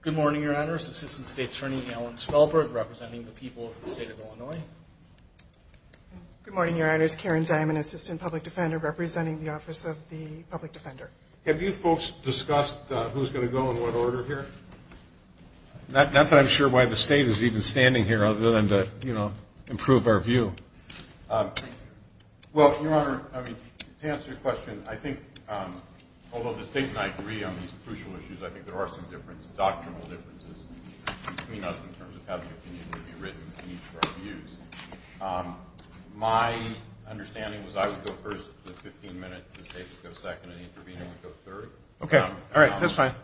Good morning, your honors. Assistant State's Attorney Alan Svelberg representing the people of the state of Illinois. Karen Diamond Good morning, your honors. Karen Diamond, Assistant Public Defender representing the Office of the Public Defender. Have you folks discussed who's going to go in what order here? Not that I'm sure why the state is even standing here other than to, you know, improve our view. Well, your honor, I mean, to answer your question, I think, although the state and I agree on these crucial issues, I think there are some doctrinal differences between us in terms of how the opinion would be written and each of our views. My understanding was I would go first, the 15-minute, the state would go second, and the intervener would go third. Okay. All right. That's fine. I'm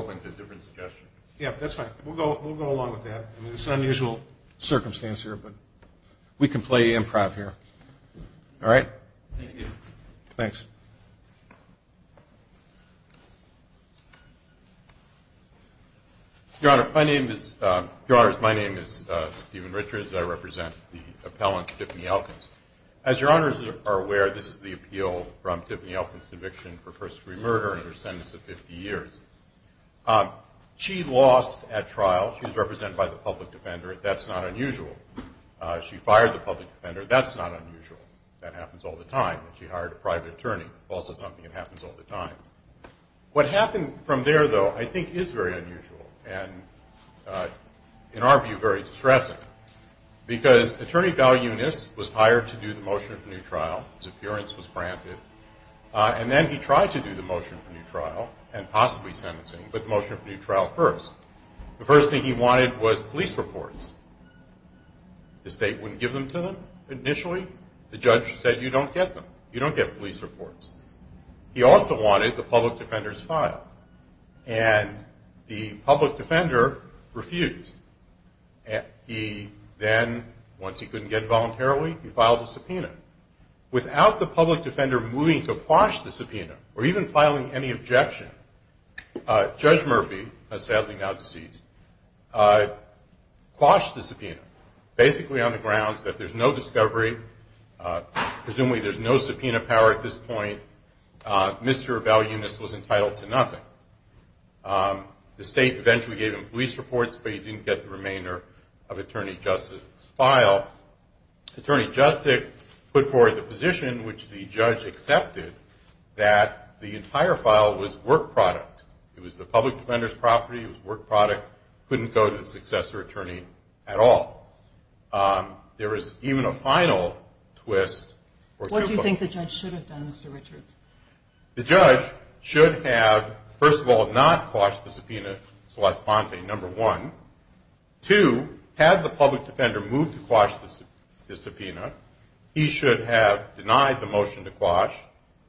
open to different suggestions. Yeah, that's fine. We'll go along with that. I mean, it's an unusual circumstance here, but we can play improv here. All right? Thank you. Thanks. Your honor, my name is Stephen Richards. I represent the appellant, Tiffany Elkins. As your honors are aware, this is the appeal from Tiffany Elkins' conviction for first degree murder and her sentence of 50 years. She lost at trial. She was represented by the public defender. That's not unusual. She fired the public defender. That's not unusual. That happens all the time. She hired a private attorney, also something that happens all the time. What happened from there, though, I think is very unusual and, in our view, very distressing because Attorney Bell Eunice was hired to do the motion for new trial. His appearance was granted. And then he tried to do the motion for new trial and possibly sentencing, but the motion for new trial first. The first thing he wanted was police reports. The state wouldn't give them to them initially. The judge said, you don't get them. You don't get police reports. He also wanted the public defender's file, and the public defender refused. He then, once he couldn't get it voluntarily, he filed a subpoena. Without the public defender moving to quash the subpoena or even filing any objection, Judge Murphy, sadly now deceased, quashed the subpoena. Basically on the grounds that there's no discovery. Presumably there's no subpoena power at this point. Mr. Bell Eunice was entitled to nothing. The state eventually gave him police reports, but he didn't get the remainder of Attorney Justice's file. Attorney Justic put forward the position which the judge accepted that the entire file was work product. It was the public defender's property. It was work product. Couldn't go to the successor attorney at all. There is even a final twist. What do you think the judge should have done, Mr. Richards? The judge should have, first of all, not quashed the subpoena, number one. Two, had the public defender moved to quash the subpoena, he should have denied the motion to quash.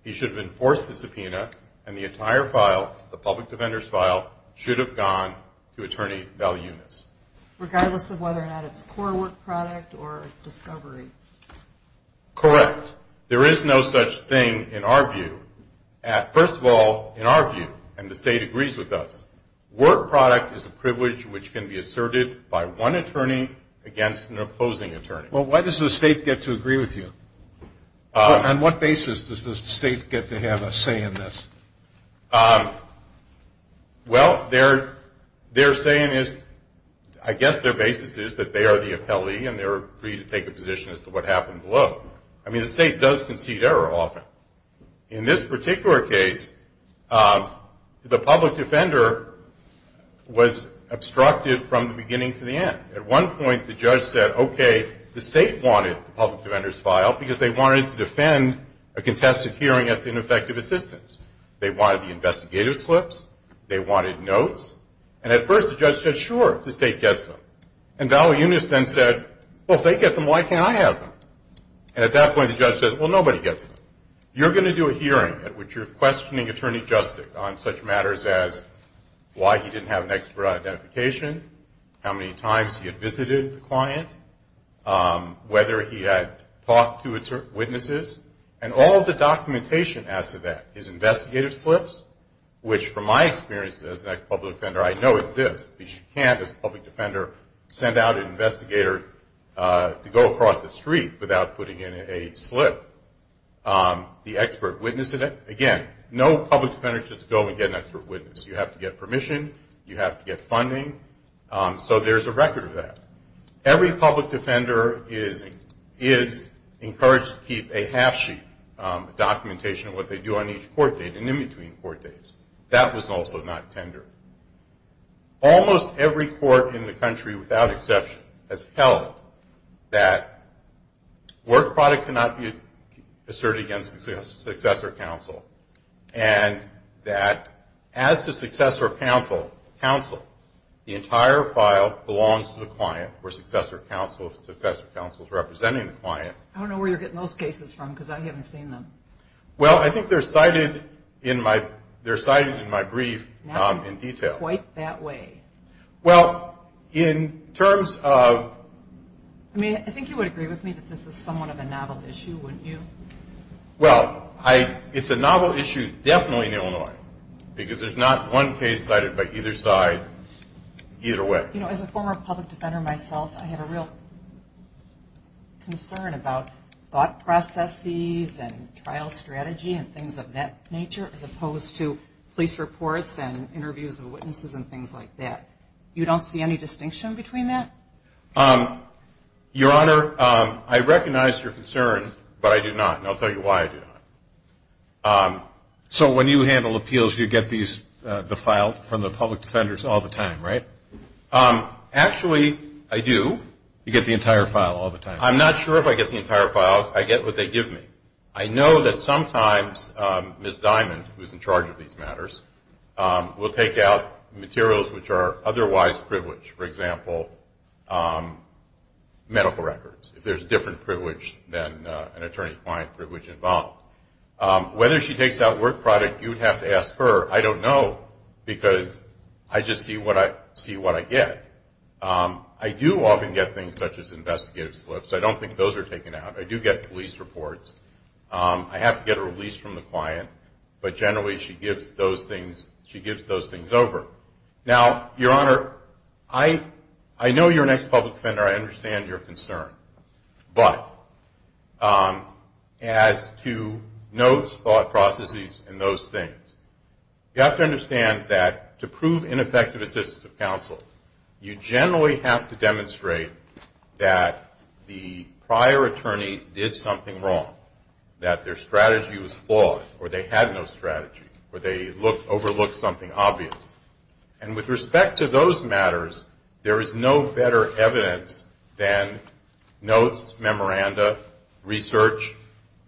He should have enforced the subpoena, and the entire file, the public defender's file, should have gone to Attorney Bell Eunice. Regardless of whether or not it's core work product or discovery. Correct. There is no such thing in our view. First of all, in our view, and the state agrees with us, work product is a privilege which can be asserted by one attorney against an opposing attorney. Why does the state get to agree with you? On what basis does the state get to have a say in this? Well, their saying is, I guess their basis is that they are the appellee and they're free to take a position as to what happened below. I mean, the state does concede error often. In this particular case, the public defender was obstructed from the beginning to the end. At one point, the judge said, okay, the state wanted the public defender's file because they wanted to defend a contested hearing as ineffective assistance. They wanted the investigative slips, they wanted notes, and at first, the judge said, sure, the state gets them. And Bell Eunice then said, well, if they get them, why can't I have them? And at that point, the judge said, well, nobody gets them. You're going to do a hearing at which you're questioning Attorney Justice on such matters as why he didn't have an expert on identification, how many times he had visited the client, whether he had talked to witnesses. And all the documentation as to that, his investigative slips, which from my experience as a public defender I know exists because you can't, as a public defender, send out an investigator to go across the street without putting in a slip. The expert witness, again, no public defender just goes and gets an expert witness. You have to get permission. You have to get funding. So there's a record of that. Every public defender is encouraged to keep a half sheet of documentation of what they do on each court date and in between court dates. That was also not tender. Almost every court in the country without exception has held that work product cannot be asserted against a successor counsel and that as the successor counsel, the entire file belongs to the client where successor counsel is representing the client. I don't know where you're getting those cases from because I haven't seen them. Well, I think they're cited in my brief in detail. Not quite that way. Well, in terms of... I mean, I think you would agree with me that this is somewhat of a novel issue, wouldn't you? Well, it's a novel issue definitely in Illinois because there's not one case cited by either side either way. You know, as a former public defender myself, I have a real concern about thought processes and trial strategy and things of that nature as opposed to police reports and interviews of witnesses and things like that. You don't see any distinction between that? Your Honor, I recognize your concern, but I do not, and I'll tell you why I do not. So when you handle appeals, you get the file from the public defenders all the time, right? Actually, I do. You get the entire file all the time? I'm not sure if I get the entire file. I get what they give me. I know that sometimes Ms. Diamond, who's in charge of these matters, will take out materials which are otherwise privileged. For example, medical records, if there's a different privilege than an attorney-client privilege involved. Whether she takes out work product, you'd have to ask her. I don't know because I just see what I get. I do often get things such as investigative slips. I don't think those are taken out. I do get police reports. I have to get a release from the client, but generally she gives those things over. Now, Your Honor, I know you're an ex-public defender. I understand your concern, but as to notes, thought processes, and those things, you have to understand that to prove ineffective assistance of counsel, you generally have to demonstrate that the prior attorney did something wrong, that their strategy was flawed, or they had no strategy, or they overlooked something obvious. And with respect to those matters, there is no better evidence than notes, memoranda, research,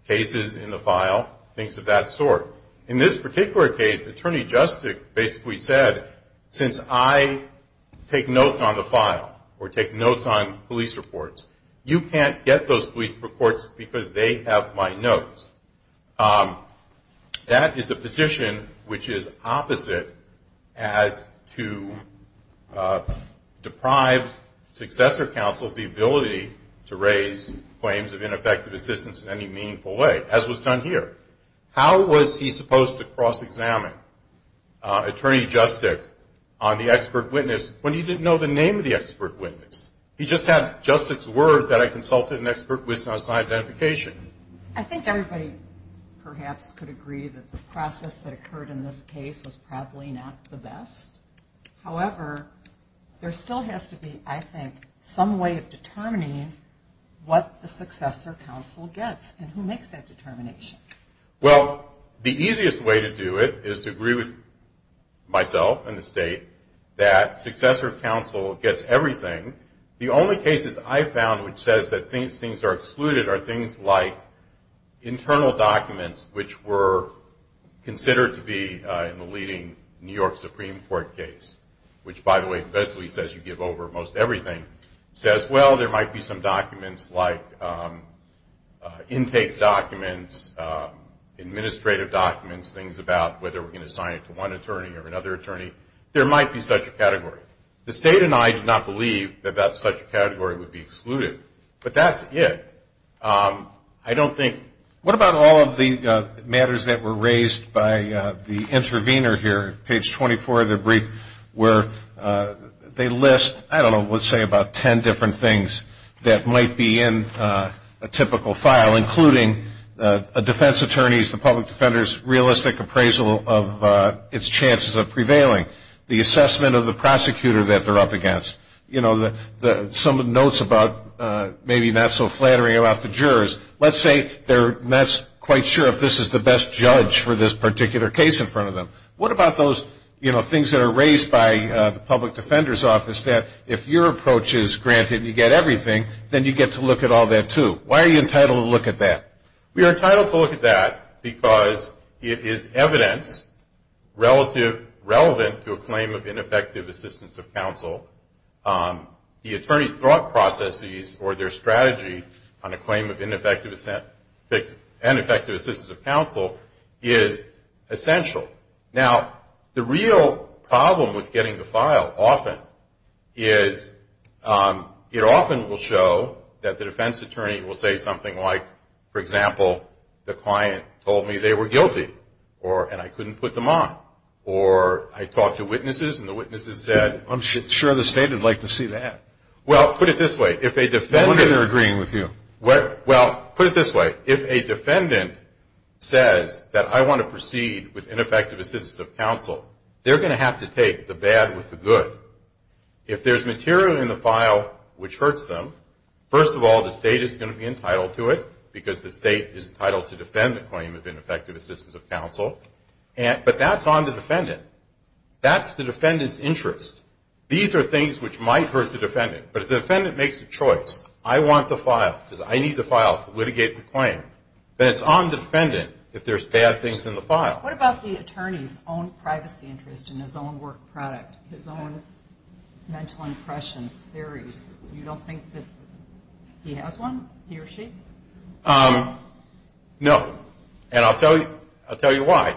cases in the file, things of that sort. In this particular case, Attorney Justice basically said, since I take notes on the file or take notes on police reports, you can't get those police reports because they have my notes. That is a position which is opposite as to deprive successor counsel the ability to raise claims of ineffective assistance in any meaningful way, as was done here. How was he supposed to cross-examine Attorney Justic on the expert witness when he didn't know the name of the expert witness? He just had Justice's word that I consulted an expert witness on identification. I think everybody perhaps could agree that the process that occurred in this case was probably not the best. However, there still has to be, I think, some way of determining what the successor counsel gets, and who makes that determination. Well, the easiest way to do it is to agree with myself and the state that successor counsel gets everything, and the only cases I found which says that things are excluded are things like internal documents, which were considered to be in the leading New York Supreme Court case, which, by the way, basically says you give over most everything. It says, well, there might be some documents like intake documents, administrative documents, things about whether we're going to sign it to one attorney or another attorney. There might be such a category. The state and I did not believe that such a category would be excluded. But that's it. I don't think – What about all of the matters that were raised by the intervener here, page 24 of the brief, where they list, I don't know, let's say about ten different things that might be in a typical file, including a defense attorney's, the public defender's, realistic appraisal of its chances of prevailing, the assessment of the prosecutor that they're up against, some notes about maybe not so flattering about the jurors. Let's say they're not quite sure if this is the best judge for this particular case in front of them. What about those things that are raised by the public defender's office, that if your approach is granted and you get everything, then you get to look at all that too? Why are you entitled to look at that? We are entitled to look at that because it is evidence relevant to a claim of ineffective assistance of counsel. The attorney's thought processes or their strategy on a claim of ineffective assistance of counsel is essential. Now, the real problem with getting the file often is it often will show that the defense attorney will say something like, for example, the client told me they were guilty and I couldn't put them on. Or I talked to witnesses and the witnesses said, I'm sure the state would like to see that. Well, put it this way, if a defendant. No wonder they're agreeing with you. Well, put it this way, if a defendant says that I want to proceed with ineffective assistance of counsel, they're going to have to take the bad with the good. If there's material in the file which hurts them, first of all, the state is going to be entitled to it because the state is entitled to defend the claim of ineffective assistance of counsel. But that's on the defendant. That's the defendant's interest. These are things which might hurt the defendant. But if the defendant makes a choice, I want the file because I need the file to litigate the claim, then it's on the defendant if there's bad things in the file. What about the attorney's own privacy interest in his own work product, his own mental impressions, theories? You don't think that he has one, he or she? No. And I'll tell you why.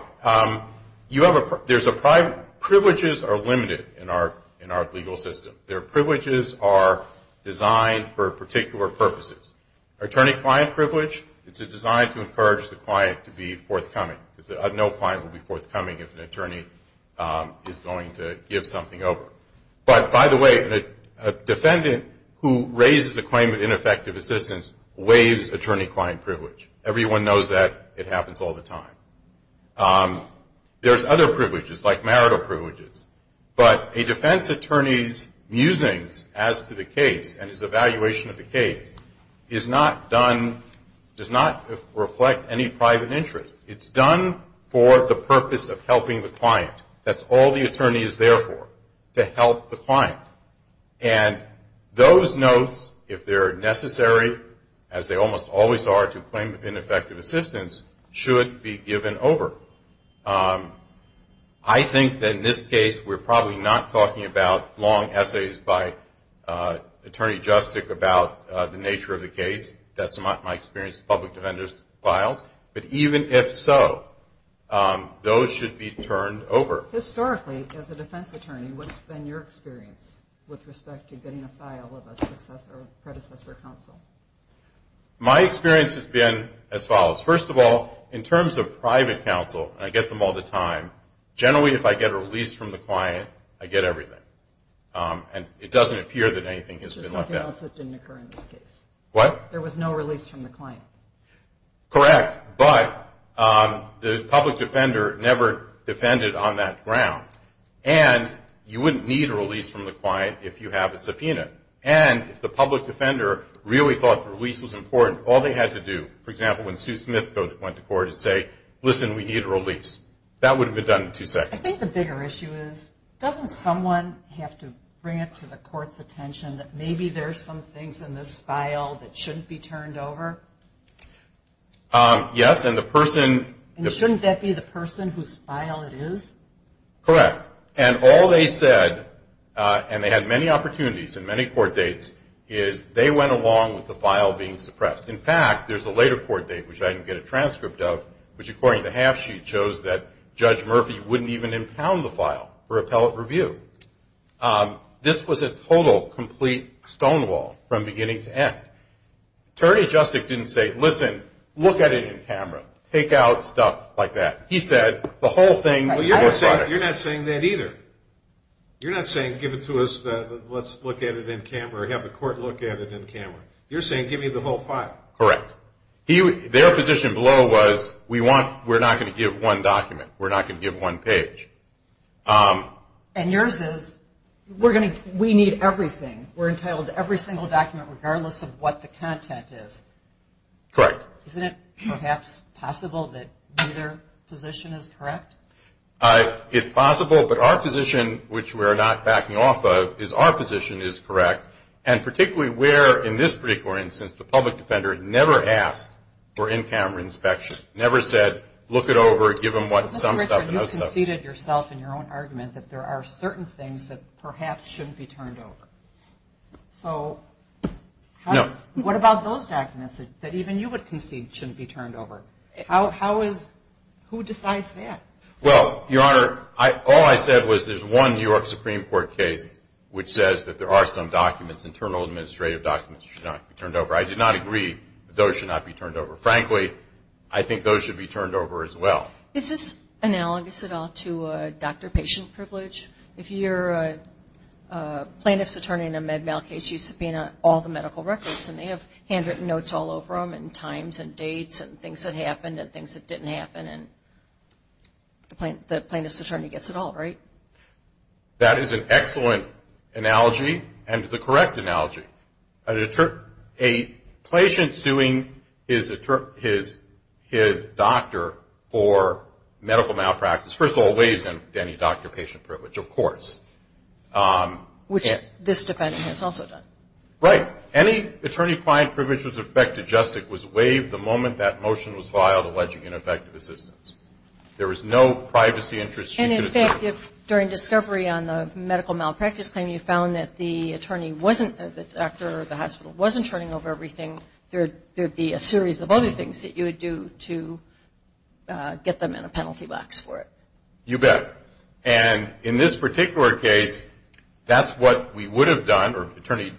Privileges are limited in our legal system. Privileges are designed for particular purposes. Our attorney-client privilege, it's designed to encourage the client to be forthcoming. No client will be forthcoming if an attorney is going to give something over. But, by the way, a defendant who raises a claim of ineffective assistance waives attorney-client privilege. Everyone knows that. It happens all the time. There's other privileges, like marital privileges. But a defense attorney's musings as to the case and his evaluation of the case is not done, does not reflect any private interest. It's done for the purpose of helping the client. That's all the attorney is there for, to help the client. And those notes, if they're necessary, as they almost always are, to claim ineffective assistance, should be given over. I think that in this case, we're probably not talking about long essays by Attorney Justic about the nature of the case. That's my experience with public defender's files. But even if so, those should be turned over. Historically, as a defense attorney, what's been your experience with respect to getting a file of a predecessor counsel? My experience has been as follows. First of all, in terms of private counsel, and I get them all the time, generally if I get a release from the client, I get everything. And it doesn't appear that anything has been left out. There's something else that didn't occur in this case. What? There was no release from the client. Correct. But the public defender never defended on that ground. And you wouldn't need a release from the client if you have a subpoena. And if the public defender really thought the release was important, all they had to do, for example, when Sue Smith went to court, is say, listen, we need a release. That would have been done in two seconds. I think the bigger issue is, doesn't someone have to bring it to the court's attention that maybe there's some things in this file that shouldn't be turned over? Yes, and the person- And shouldn't that be the person whose file it is? Correct. And all they said, and they had many opportunities and many court dates, is they went along with the file being suppressed. In fact, there's a later court date, which I didn't get a transcript of, which according to half-sheet shows that Judge Murphy wouldn't even impound the file for appellate review. This was a total, complete stonewall from beginning to end. Attorney Justic didn't say, listen, look at it in camera, take out stuff like that. He said the whole thing- Well, you're not saying that either. You're not saying give it to us, let's look at it in camera or have the court look at it in camera. You're saying give me the whole file. Correct. Their position below was, we're not going to give one document. We're not going to give one page. And yours is, we need everything. We're entitled to every single document regardless of what the content is. Correct. Isn't it perhaps possible that their position is correct? It's possible, but our position, which we're not backing off of, is our position is correct, and particularly where in this particular instance the public defender never asked for in-camera inspection, never said look it over, give them some stuff and those stuff. Mr. Richard, you conceded yourself in your own argument that there are certain things that perhaps shouldn't be turned over. So what about those documents that even you would concede shouldn't be turned over? How is- who decides that? Well, Your Honor, all I said was there's one New York Supreme Court case which says that there are some documents, internal administrative documents should not be turned over. I did not agree that those should not be turned over. Frankly, I think those should be turned over as well. Is this analogous at all to doctor-patient privilege? If you're a plaintiff's attorney in a Med-Mal case, you subpoena all the medical records, and they have handwritten notes all over them and times and dates and things that happened and things that didn't happen, and the plaintiff's attorney gets it all, right? That is an excellent analogy and the correct analogy. A patient suing his doctor for medical malpractice first of all waives any doctor-patient privilege, of course. Which this defendant has also done. Right. Any attorney-client privilege that was affected justice was waived the moment that motion was filed alleging ineffective assistance. There was no privacy interest she could assert. And, in fact, if during discovery on the medical malpractice claim you found that the attorney wasn't- the doctor or the hospital wasn't turning over everything, there would be a series of other things that you would do to get them in a penalty box for it. You bet. And in this particular case, that's what we would have done, or Attorney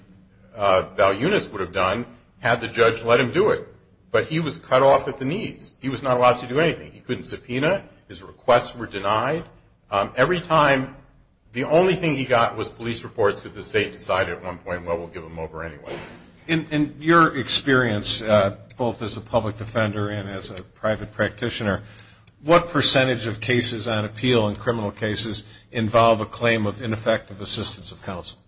Val Yunus would have done, had the judge let him do it. But he was cut off at the knees. He was not allowed to do anything. He couldn't subpoena. His requests were denied. Every time, the only thing he got was police reports because the state decided at one point, well, we'll give them over anyway. In your experience, both as a public defender and as a private practitioner, what percentage of cases on appeal in criminal cases involve a claim of ineffective assistance of counsel?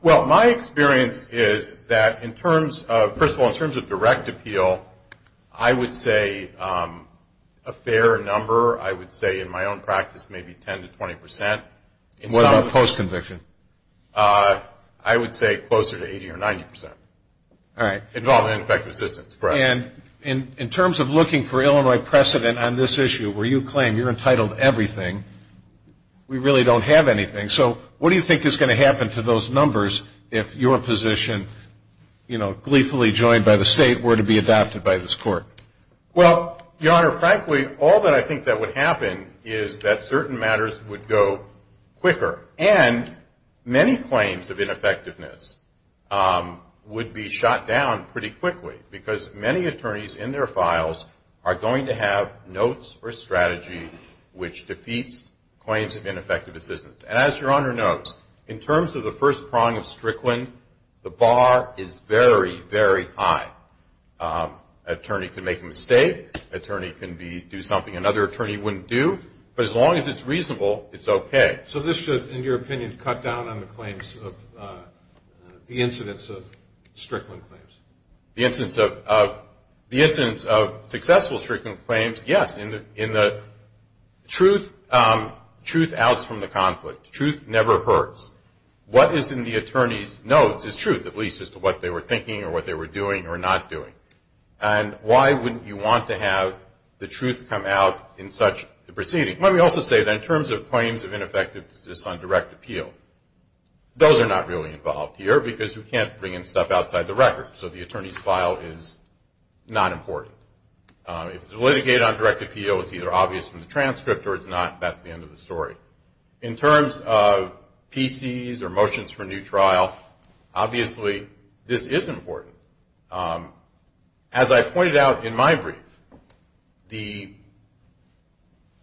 Well, my experience is that in terms of-first of all, in terms of direct appeal, I would say a fair number. I would say in my own practice maybe 10 to 20 percent. What about post-conviction? I would say closer to 80 or 90 percent. All right. Involving ineffective assistance, correct. And in terms of looking for Illinois precedent on this issue where you claim you're entitled to everything, we really don't have anything. So what do you think is going to happen to those numbers if your position, you know, gleefully joined by the state were to be adopted by this court? Well, Your Honor, frankly, all that I think that would happen is that certain matters would go quicker. And many claims of ineffectiveness would be shot down pretty quickly because many attorneys in their files are going to have notes or strategy which defeats claims of ineffective assistance. And as Your Honor knows, in terms of the first prong of Strickland, the bar is very, very high. An attorney can make a mistake. An attorney can do something another attorney wouldn't do. But as long as it's reasonable, it's okay. So this should, in your opinion, cut down on the claims of the incidents of Strickland claims? The incidents of successful Strickland claims, yes. In the truth outs from the conflict. Truth never hurts. What is in the attorney's notes is truth, at least as to what they were thinking or what they were doing or not doing. And why wouldn't you want to have the truth come out in such a proceeding? Let me also say that in terms of claims of ineffectiveness on direct appeal, those are not really involved here because we can't bring in stuff outside the record. So the attorney's file is not important. If it's litigated on direct appeal, it's either obvious from the transcript or it's not. That's the end of the story. In terms of PCs or motions for new trial, obviously this is important. As I pointed out in my brief,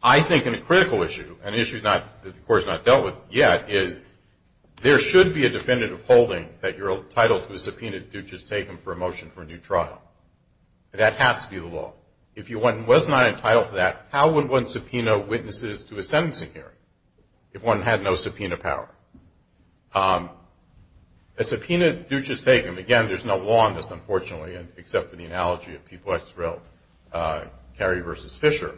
I think in a critical issue, an issue that the court has not dealt with yet, is there should be a defendant of holding that you're entitled to a subpoena that Dutch has taken for a motion for a new trial. That has to be the law. If one was not entitled to that, how would one subpoena witnesses to a sentencing hearing if one had no subpoena power? A subpoena that Dutch has taken, and again, there's no law on this, unfortunately, except for the analogy of Peabody, Carey v. Fisher,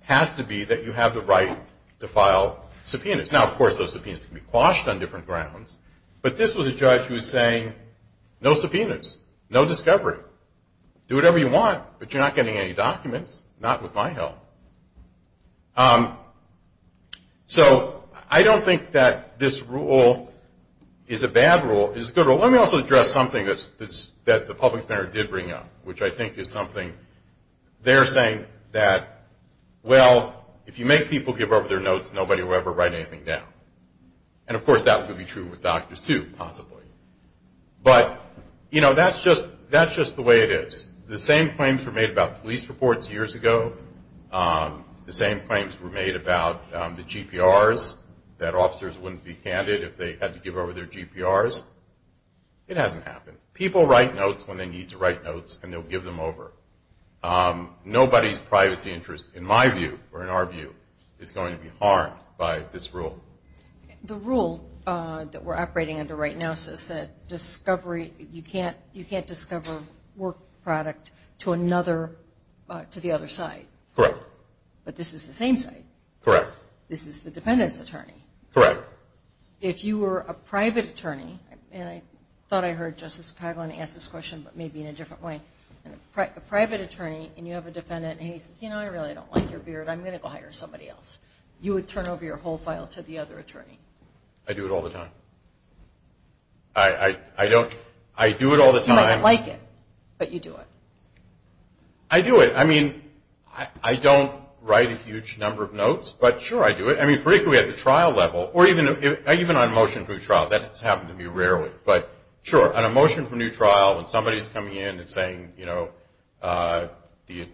has to be that you have the right to file subpoenas. Now, of course, those subpoenas can be quashed on different grounds, but this was a judge who was saying, no subpoenas, no discovery. Do whatever you want, but you're not getting any documents, not with my help. So I don't think that this rule is a bad rule. It's a good rule. Let me also address something that the public defender did bring up, which I think is something they're saying that, well, if you make people give up their notes, nobody will ever write anything down. And, of course, that would be true with doctors, too, possibly. But, you know, that's just the way it is. The same claims were made about police reports years ago. The same claims were made about the GPRs, that officers wouldn't be candid if they had to give over their GPRs. It hasn't happened. People write notes when they need to write notes, and they'll give them over. Nobody's privacy interest, in my view, or in our view, is going to be harmed by this rule. The rule that we're operating under right now says that you can't discover work product to the other side. Correct. But this is the same side. Correct. This is the defendant's attorney. Correct. If you were a private attorney, and I thought I heard Justice Kagan ask this question, but maybe in a different way, a private attorney, and you have a defendant, and he says, you know, I really don't like your beard, I'm going to go hire somebody else, you would turn over your whole file to the other attorney. I do it all the time. I don't. I do it all the time. You might not like it, but you do it. I do it. I mean, I don't write a huge number of notes, but, sure, I do it. I mean, particularly at the trial level, or even on a motion for a trial. That's happened to me rarely. But, sure, on a motion for a new trial, when somebody's coming in and saying, you know, the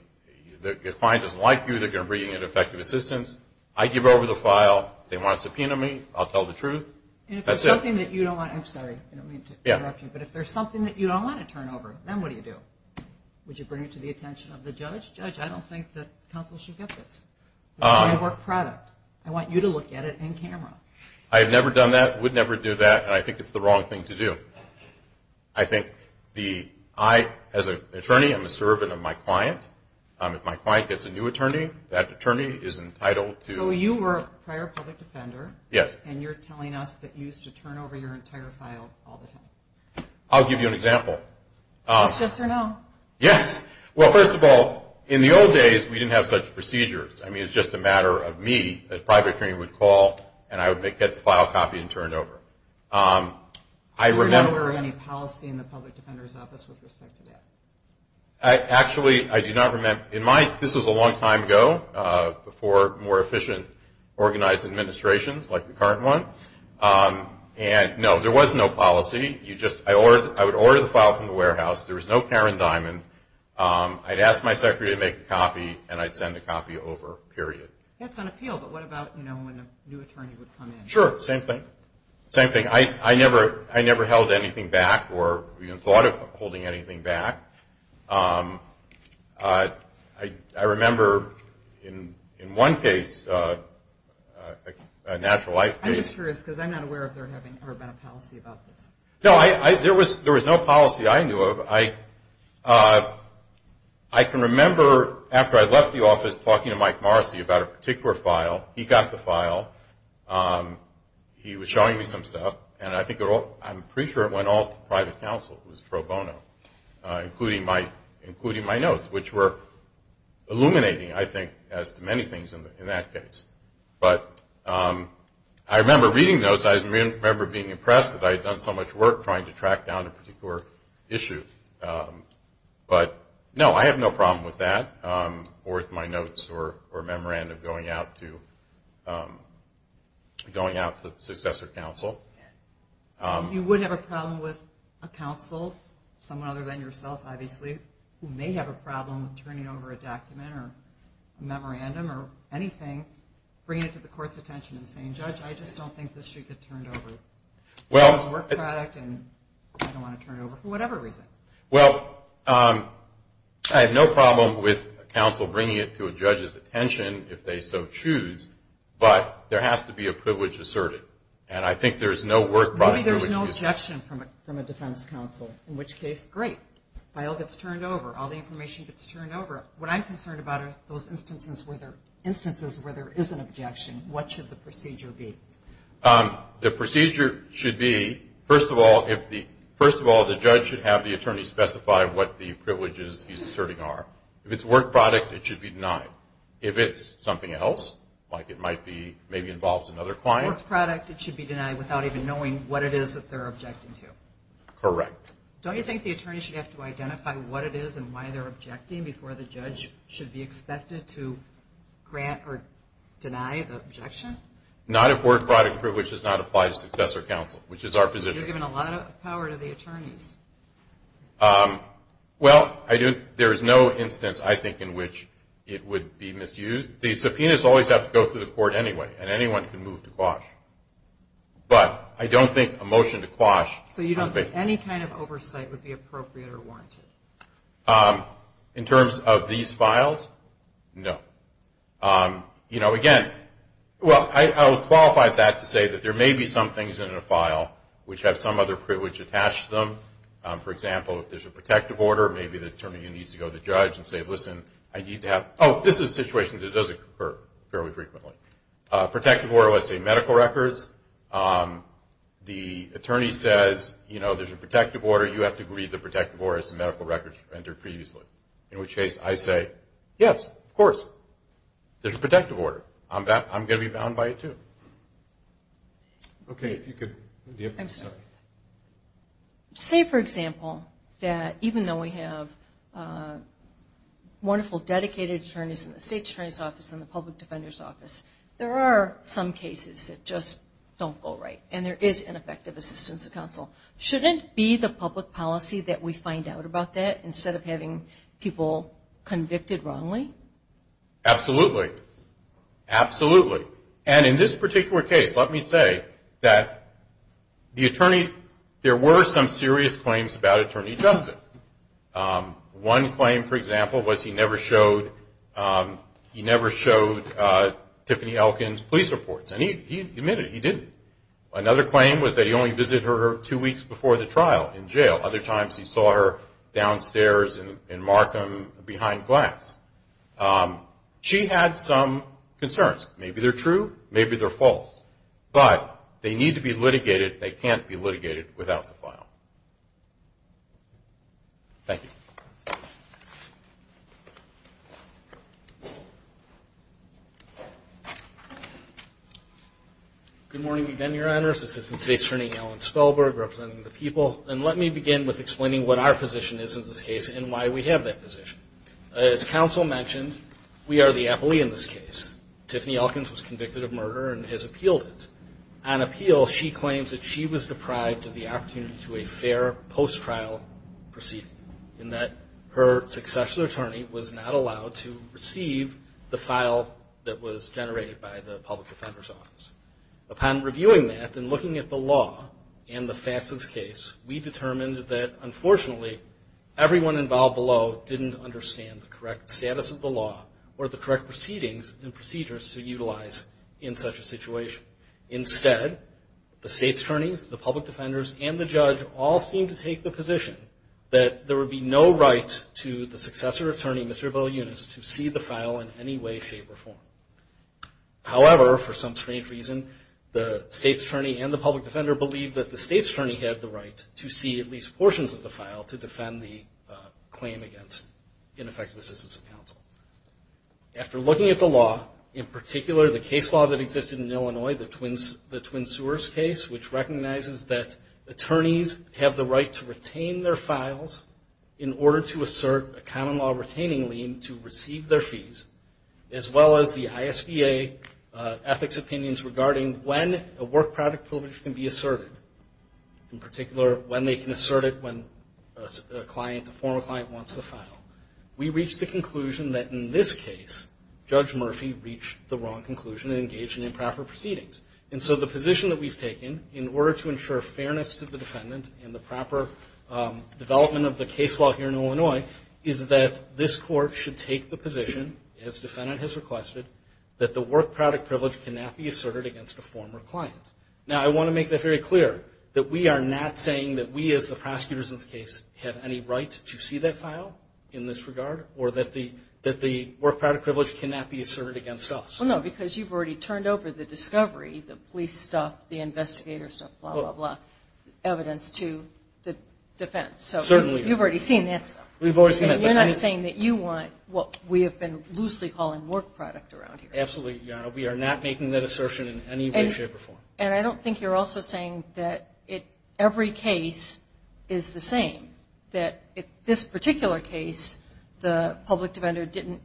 client doesn't like you, they're going to bring in ineffective assistance, I give over the file, they want a subpoena me, I'll tell the truth, that's it. And if there's something that you don't want to, I'm sorry, I don't mean to interrupt you, but if there's something that you don't want to turn over, then what do you do? Would you bring it to the attention of the judge? Judge, I don't think that counsel should get this. It's my work product. I want you to look at it in camera. I have never done that, would never do that, and I think it's the wrong thing to do. I think I, as an attorney, am a servant of my client. If my client gets a new attorney, that attorney is entitled to... So you were a prior public defender. Yes. And you're telling us that you used to turn over your entire file all the time. I'll give you an example. It's just a no. Yes. Well, first of all, in the old days, we didn't have such procedures. I mean, it's just a matter of me, a private attorney would call, and I would get the file copied and turned over. Do you remember any policy in the Public Defender's Office with respect to that? Actually, I do not remember. This was a long time ago, before more efficient, organized administrations like the current one. No, there was no policy. I would order the file from the warehouse. There was no Karen Diamond. I'd ask my secretary to make a copy, and I'd send the copy over, period. That's on appeal, but what about when a new attorney would come in? Sure, same thing. Same thing. I never held anything back or even thought of holding anything back. I remember in one case, a natural life case. I'm just curious because I'm not aware if there had ever been a policy about this. No, there was no policy I knew of. I can remember after I left the office talking to Mike Morrissey about a particular file. He got the file. He was showing me some stuff, and I'm pretty sure it went all to private counsel, who was pro bono, including my notes, which were illuminating, I think, as to many things in that case. But I remember reading those. I remember being impressed that I had done so much work trying to track down a particular issue. But, no, I have no problem with that, or with my notes or memorandum going out to successor counsel. If you would have a problem with a counsel, someone other than yourself, obviously, who may have a problem with turning over a document or a memorandum or anything, bringing it to the court's attention and saying, Judge, I just don't think this should get turned over. It's a work product, and I don't want to turn it over for whatever reason. Well, I have no problem with a counsel bringing it to a judge's attention if they so choose, but there has to be a privilege to serve it. And I think there's no work product. Maybe there's no objection from a defense counsel, in which case, great. File gets turned over. All the information gets turned over. What I'm concerned about are those instances where there is an objection. What should the procedure be? The procedure should be, first of all, the judge should have the attorney specify what the privileges he's asserting are. If it's a work product, it should be denied. If it's something else, like it might be, maybe involves another client. A work product, it should be denied without even knowing what it is that they're objecting to. Correct. Don't you think the attorney should have to identify what it is and why they're objecting before the judge should be expected to grant or deny the objection? Not if work product privilege does not apply to successor counsel, which is our position. You're giving a lot of power to the attorneys. Well, there is no instance, I think, in which it would be misused. The subpoenas always have to go through the court anyway, and anyone can move to quash. But I don't think a motion to quash. So you don't think any kind of oversight would be appropriate or warranted? In terms of these files, no. You know, again, well, I would qualify that to say that there may be some things in a file which have some other privilege attached to them. For example, if there's a protective order, maybe the attorney needs to go to the judge and say, listen, I need to have – oh, this is a situation that does occur fairly frequently. Protective order, let's say medical records. The attorney says, you know, there's a protective order. You have to read the protective order as the medical records entered previously, in which case I say, yes, of course, there's a protective order. I'm going to be bound by it too. Okay, if you could – Say, for example, that even though we have wonderful, dedicated attorneys in the state attorney's office and the public defender's office, there are some cases that just don't go right, and there is ineffective assistance to counsel. Shouldn't it be the public policy that we find out about that instead of having people convicted wrongly? Absolutely. Absolutely. And in this particular case, let me say that the attorney – there were some serious claims about attorney justice. One claim, for example, was he never showed Tiffany Elkins police reports, and he admitted he didn't. Another claim was that he only visited her two weeks before the trial in jail. Other times he saw her downstairs in Markham behind glass. She had some concerns. Maybe they're true, maybe they're false. But they need to be litigated. They can't be litigated without the file. Thank you. Good morning again, Your Honors. This is the state attorney, Alan Spellberg, representing the people. And let me begin with explaining what our position is in this case and why we have that position. As counsel mentioned, we are the appellee in this case. Tiffany Elkins was convicted of murder and has appealed it. On appeal, she claims that she was deprived of the opportunity to a fair post-trial proceeding, in that her successor attorney was not allowed to receive the file that was generated by the public defender's office. Upon reviewing that and looking at the law and the facts of this case, we determined that, unfortunately, everyone involved below didn't understand the correct status of the law or the correct proceedings and procedures to utilize in such a situation. Instead, the state's attorneys, the public defenders, and the judge all seemed to take the position that there would be no right to the successor attorney, Mr. Bill Yunus, to see the file in any way, shape, or form. However, for some strange reason, the state's attorney and the public defender believed that the state's attorney had the right to see at least portions of the file to defend the claim against ineffective assistance of counsel. After looking at the law, in particular, the case law that existed in Illinois, the Twin Sewers case, which recognizes that attorneys have the right to retain their files in order to assert a common law retaining lien to receive their fees, as well as the ISBA ethics opinions regarding when a work product privilege can be asserted. In particular, when they can assert it when a former client wants the file. We reached the conclusion that, in this case, Judge Murphy reached the wrong conclusion and engaged in improper proceedings. And so the position that we've taken, in order to ensure fairness to the defendant and the proper development of the case law here in Illinois, is that this court should take the position, as the defendant has requested, that the work product privilege cannot be asserted against a former client. Now, I want to make this very clear, that we are not saying that we, as the prosecutors in this case, have any right to see that file in this regard, or that the work product privilege cannot be asserted against us. Well, no, because you've already turned over the discovery, the police stuff, the investigators stuff, blah, blah, blah, evidence to the defense. Certainly. You've already seen that stuff. We've already seen that. And you're not saying that you want what we have been loosely calling work product around here. Absolutely, Your Honor. We are not making that assertion in any way, shape, or form. And I don't think you're also saying that every case is the same. That in this particular case, the public defender didn't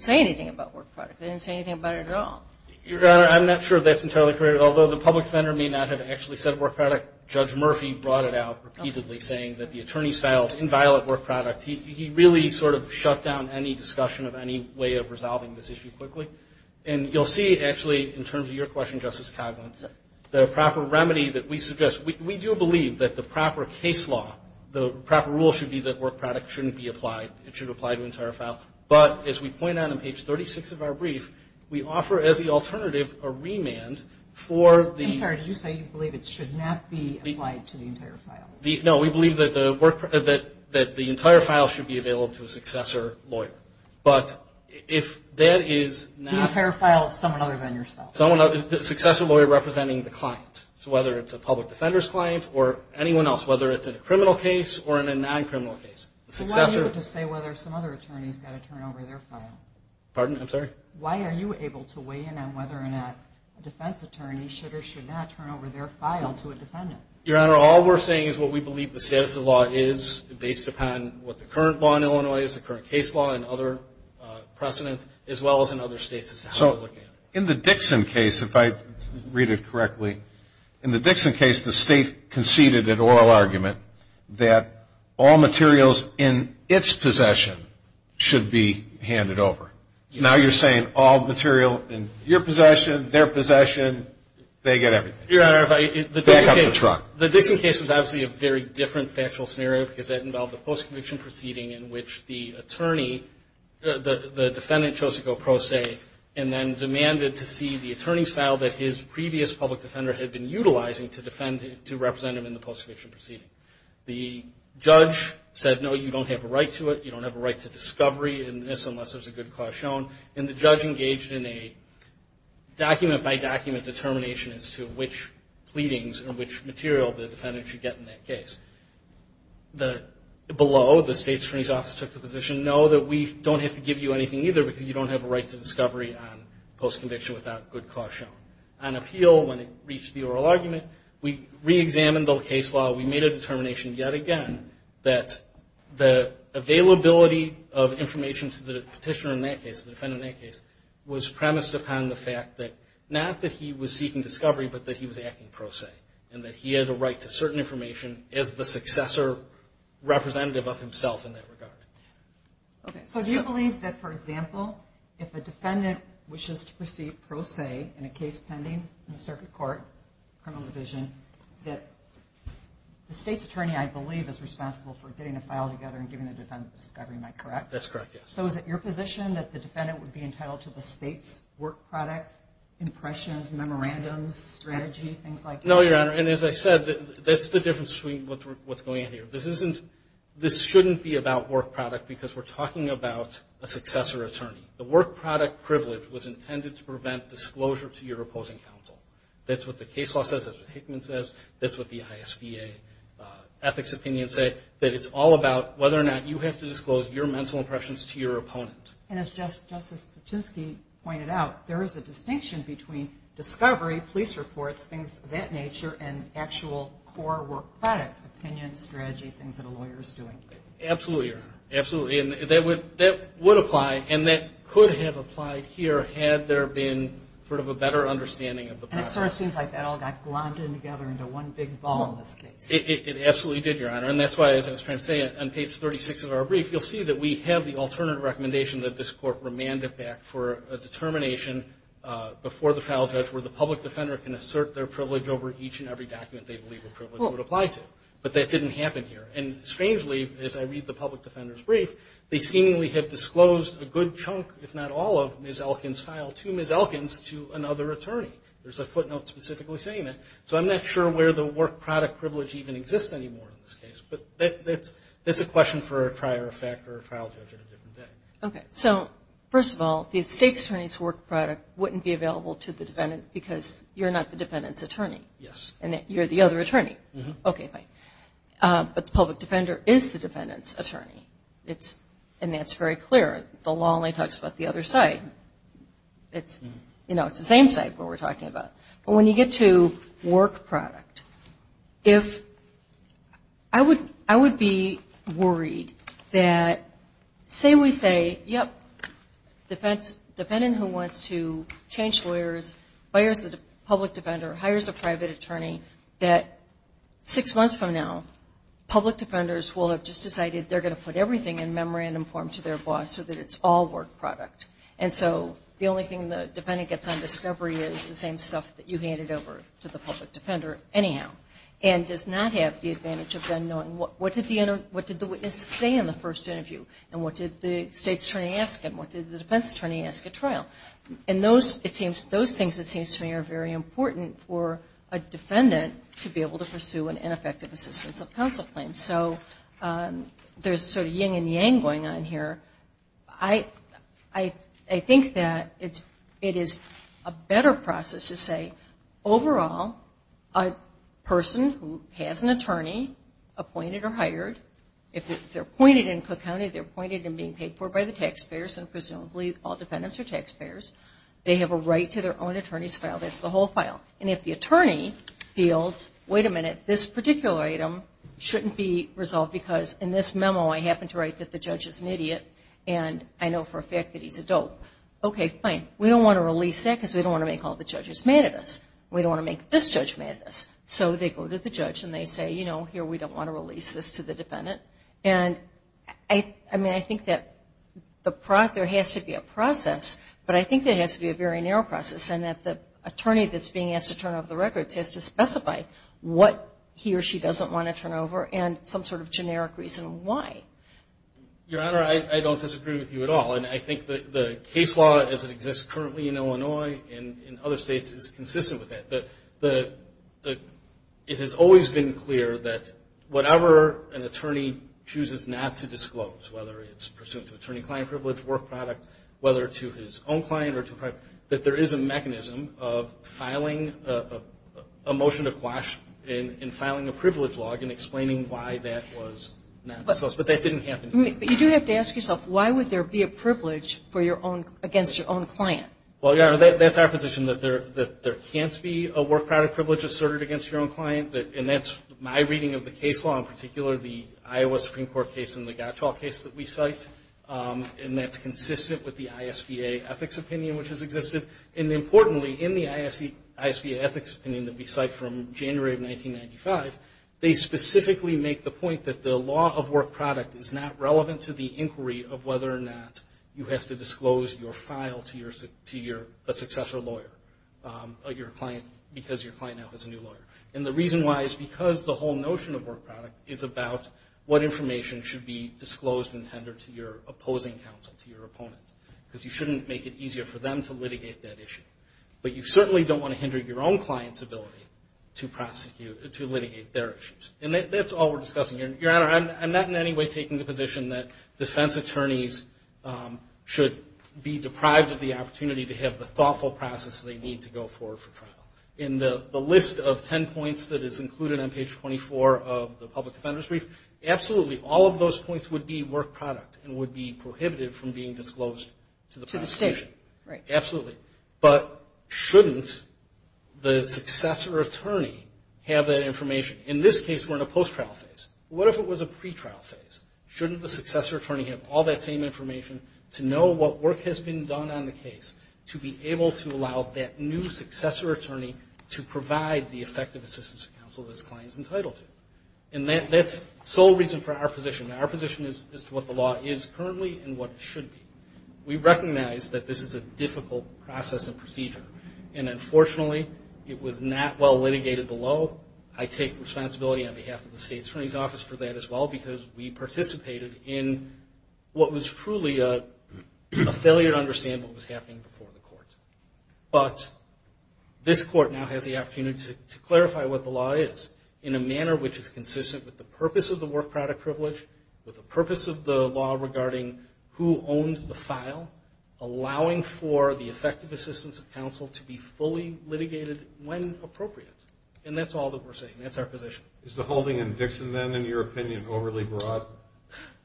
say anything about work product. They didn't say anything about it at all. Your Honor, I'm not sure that's entirely correct. But although the public defender may not have actually said work product, Judge Murphy brought it out repeatedly, saying that the attorney's files inviolate work product. He really sort of shut down any discussion of any way of resolving this issue quickly. And you'll see, actually, in terms of your question, Justice Cogman, the proper remedy that we suggest. We do believe that the proper case law, the proper rule should be that work product shouldn't be applied. It should apply to an entire file. But as we point out on page 36 of our brief, we offer as the alternative a remand for the... I'm sorry. Did you say you believe it should not be applied to the entire file? No. We believe that the entire file should be available to a successor lawyer. But if that is not... The entire file is someone other than yourself. Successor lawyer representing the client. So whether it's a public defender's client or anyone else, whether it's in a criminal case or in a non-criminal case. Why are you able to say whether some other attorney's got to turn over their file? Pardon? I'm sorry? Why are you able to weigh in on whether or not a defense attorney should or should not turn over their file to a defendant? Your Honor, all we're saying is what we believe the status of the law is, based upon what the current law in Illinois is, the current case law, and other precedents, as well as in other states. So in the Dixon case, if I read it correctly, in the Dixon case, the state conceded an oral argument that all materials in its possession should be handed over. So now you're saying all material in your possession, their possession, they get everything. Your Honor, if I... Back up the truck. The Dixon case was obviously a very different factual scenario, because that involved a post-conviction proceeding in which the attorney, the defendant, chose to go pro se and then demanded to see the attorney's file that his previous public defender had been utilizing to represent him in the post-conviction proceeding. The judge said, no, you don't have a right to it. You don't have a right to discovery in this unless there's a good cause shown. And the judge engaged in a document-by-document determination as to which pleadings and which material the defendant should get in that case. Below, the state attorney's office took the position, no, that we don't have to give you anything either, because you don't have a right to discovery on post-conviction without good cause shown. On appeal, when it reached the oral argument, we reexamined the case law. We made a determination yet again that the availability of information to the petitioner in that case, the defendant in that case, was premised upon the fact that not that he was seeking discovery, but that he was acting pro se and that he had a right to certain information as the successor representative of himself in that regard. Okay, so do you believe that, for example, if a defendant wishes to proceed pro se in a case pending in the circuit court, criminal division, that the state's attorney, I believe, is responsible for getting a file together and giving the defendant discovery, am I correct? That's correct, yes. So is it your position that the defendant would be entitled to the state's work product, impressions, memorandums, strategy, things like that? No, Your Honor, and as I said, that's the difference between what's going on here. This shouldn't be about work product because we're talking about a successor attorney. The work product privilege was intended to prevent disclosure to your opposing counsel. That's what the case law says. That's what Hickman says. That's what the ISBA ethics opinions say. That it's all about whether or not you have to disclose your mental impressions to your opponent. And as Justice Kuczynski pointed out, there is a distinction between discovery, police reports, things of that nature, and actual core work product, opinion, strategy, things that a lawyer is doing. Absolutely, Your Honor. Absolutely. And that would apply, and that could have applied here had there been sort of a better understanding of the process. And it sort of seems like that all got glommed in together into one big ball in this case. It absolutely did, Your Honor. And that's why, as I was trying to say on page 36 of our brief, you'll see that we have the alternative recommendation that this court remanded back for a determination before the trial judge where the public defender can assert their privilege over each and every document they believe a privilege would apply to. But that didn't happen here. And strangely, as I read the public defender's brief, they seemingly had disclosed a good chunk, if not all of Ms. Elkins' file to Ms. Elkins to another attorney. There's a footnote specifically saying that. So I'm not sure where the work product privilege even exists anymore in this case. But that's a question for a prior effect or a trial judge at a different day. Okay. So, first of all, the state attorney's work product wouldn't be available to the defendant because you're not the defendant's attorney. Yes. And you're the other attorney. Okay. Fine. But the public defender is the defendant's attorney. And that's very clear. The law only talks about the other side. It's the same side we're talking about. But when you get to work product, I would be worried that, say we say, yep, defendant who wants to change lawyers, hires a public defender, hires a private attorney, that six months from now, public defenders will have just decided they're going to put everything in memorandum form to their boss so that it's all work product. And so the only thing the defendant gets on discovery is the same stuff that you handed over to the public defender anyhow and does not have the advantage of then knowing what did the witness say in the first interview and what did the state attorney ask him, what did the defense attorney ask at trial. And those things, it seems to me, are very important for a defendant to be able to pursue an ineffective assistance of counsel claim. So there's sort of yin and yang going on here. I think that it is a better process to say, overall, a person who has an attorney appointed or hired, if they're appointed in Cook County, they're appointed and being paid for by the taxpayers and presumably all defendants are taxpayers. They have a right to their own attorney's file. That's the whole file. And if the attorney feels, wait a minute, this particular item shouldn't be resolved because in this memo I happen to write that the judge is an idiot and I know for a fact that he's a dope. Okay, fine. We don't want to release that because we don't want to make all the judges mad at us. We don't want to make this judge mad at us. So they go to the judge and they say, you know, here, we don't want to release this to the defendant. And I mean, I think that there has to be a process, but I think there has to be a very narrow process and that the attorney that's being asked to turn over the records has to specify what he or she doesn't want to turn over and some sort of generic reason why. Your Honor, I don't disagree with you at all, and I think the case law as it exists currently in Illinois and in other states is consistent with that. It has always been clear that whatever an attorney chooses not to disclose, whether it's pursuant to attorney-client privilege, work product, whether to his own client or to private, that there is a mechanism of filing a motion to quash and filing a privilege log and explaining why that was not disclosed. But that didn't happen here. But you do have to ask yourself, why would there be a privilege against your own client? Well, Your Honor, that's our position, that there can't be a work product privilege asserted against your own client, and that's my reading of the case law, in particular the Iowa Supreme Court case and the Gottschall case that we cite, and that's consistent with the ISBA ethics opinion which has existed. And importantly, in the ISBA ethics opinion that we cite from January of 1995, they specifically make the point that the law of work product is not relevant to the inquiry of whether or not you have to disclose your file to a successor lawyer because your client now has a new lawyer. And the reason why is because the whole notion of work product is about what information should be disclosed and tendered to your opposing counsel, to your opponent, because you shouldn't make it easier for them to litigate that issue. But you certainly don't want to hinder your own client's ability to litigate their issues. And that's all we're discussing here. Your Honor, I'm not in any way taking the position that defense attorneys should be deprived of the opportunity to have the thoughtful process they need to go forward for trial. In the list of ten points that is included on page 24 of the public defender's brief, absolutely all of those points would be work product and would be prohibited from being disclosed to the prosecution. To the state, right. Absolutely. But shouldn't the successor attorney have that information? In this case, we're in a post-trial phase. What if it was a pre-trial phase? Shouldn't the successor attorney have all that same information to know what work has been done on the case to be able to allow that new successor attorney to provide the effective assistance of counsel that his client is entitled to? And that's the sole reason for our position. Our position is as to what the law is currently and what it should be. We recognize that this is a difficult process and procedure. And unfortunately, it was not well litigated below. I take responsibility on behalf of the state attorney's office for that as well, because we participated in what was truly a failure to understand what was happening before the court. But this court now has the opportunity to clarify what the law is in a manner which is consistent with the purpose of the work product privilege, with the purpose of the law regarding who owns the file, allowing for the effective assistance of counsel to be fully litigated when appropriate. And that's all that we're saying. That's our position. Is the holding in Dixon, then, in your opinion, overly broad?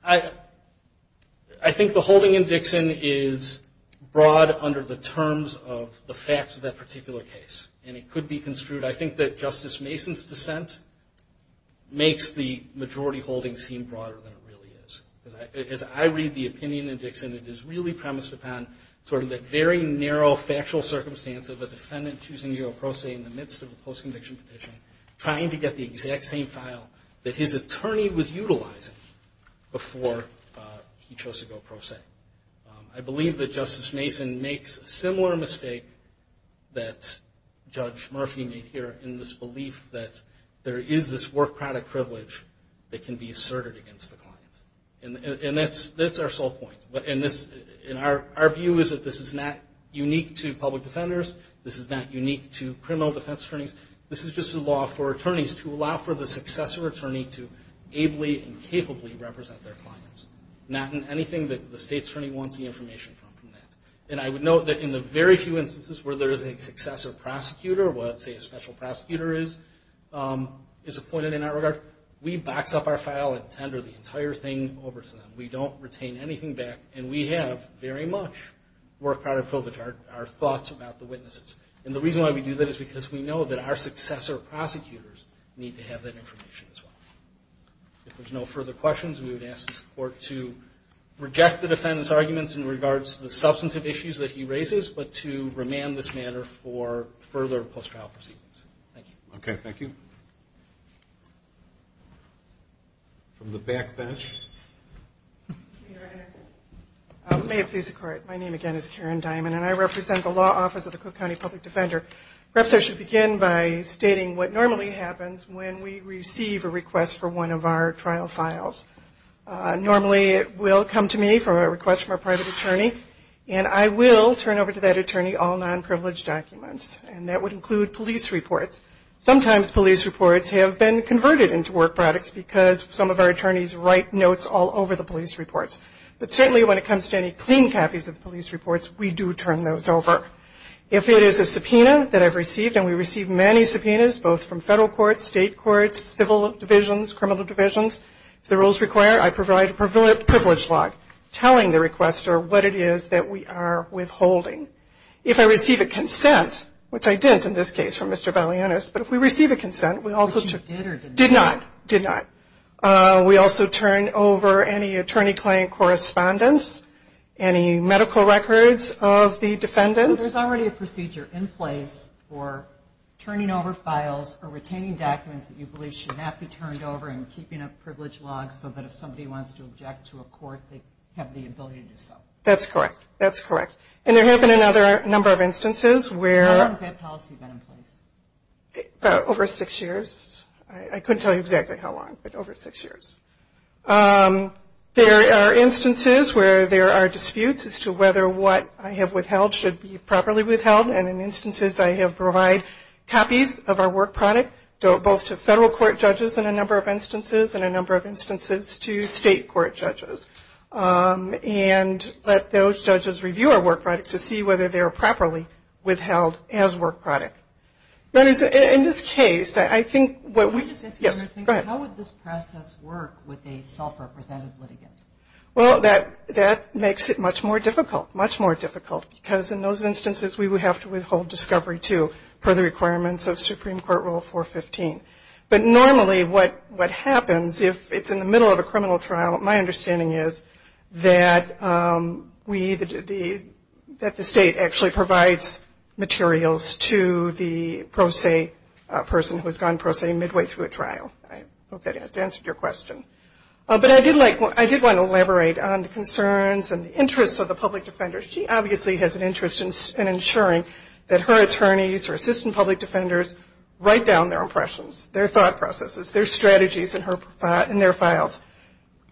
I think the holding in Dixon is broad under the terms of the facts of that particular case. And it could be construed, I think, that Justice Mason's dissent makes the majority holding seem broader than it really is. As I read the opinion in Dixon, it is really premised upon sort of the very narrow factual circumstance of a defendant choosing to go pro se in the midst of a post-conviction petition, trying to get the exact same file that his attorney was utilizing before he chose to go pro se. I believe that Justice Mason makes a similar mistake that Judge Murphy made here in this belief that there is this work product privilege that can be asserted against the client. And that's our sole point. Our view is that this is not unique to public defenders. This is not unique to criminal defense attorneys. This is just a law for attorneys to allow for the successor attorney to ably and capably represent their clients, not in anything that the state's attorney wants the information from. And I would note that in the very few instances where there is a successor prosecutor, let's say a special prosecutor is appointed in that regard, we box up our file and tender the entire thing over to them. We don't retain anything back, and we have very much work product privilege, our thoughts about the witnesses. And the reason why we do that is because we know that our successor prosecutors need to have that information as well. If there's no further questions, we would ask this Court to reject the defendant's arguments in regards to the substantive issues that he raises, but to remand this matter for further post-trial proceedings. Thank you. Okay, thank you. From the back bench. May it please the Court, my name again is Karen Diamond, and I represent the Law Office of the Cook County Public Defender. Perhaps I should begin by stating what normally happens when we receive a request for one of our trial files. Normally it will come to me for a request from a private attorney, and I will turn over to that attorney all non-privileged documents, and that would include police reports. Sometimes police reports have been converted into work products because some of our attorneys write notes all over the police reports. But certainly when it comes to any clean copies of the police reports, we do turn those over. If it is a subpoena that I've received, and we receive many subpoenas, both from federal courts, state courts, civil divisions, criminal divisions, if the rules require, I provide a privilege log telling the requester what it is that we are withholding. If I receive a consent, which I didn't in this case from Mr. Valianos, but if we receive a consent, we also turn over any attorney-client correspondence, any medical records of the defendant. There's already a procedure in place for turning over files or retaining documents that you believe should not be turned over and keeping a privilege log so that if somebody wants to object to a court, they have the ability to do so. That's correct. And there have been a number of instances where... How long has that policy been in place? Over six years. I couldn't tell you exactly how long, but over six years. There are instances where there are disputes as to whether what I have withheld should be properly withheld, and in instances I have provided copies of our work product, both to federal court judges in a number of instances and a number of instances to state court judges. And let those judges review our work product to see whether they are properly withheld as work product. In this case, I think what we... Can I just ask you another thing? Yes, go ahead. How would this process work with a self-represented litigant? Well, that makes it much more difficult, much more difficult, because in those instances we would have to withhold discovery, too, per the requirements of Supreme Court Rule 415. But normally what happens if it's in the middle of a criminal trial, my understanding is that the state actually provides materials to the pro se person who has gone pro se midway through a trial. I hope that has answered your question. But I did want to elaborate on the concerns and the interests of the public defender. She obviously has an interest in ensuring that her attorneys, her assistant public defenders, write down their impressions, their thought processes, their strategies in their files.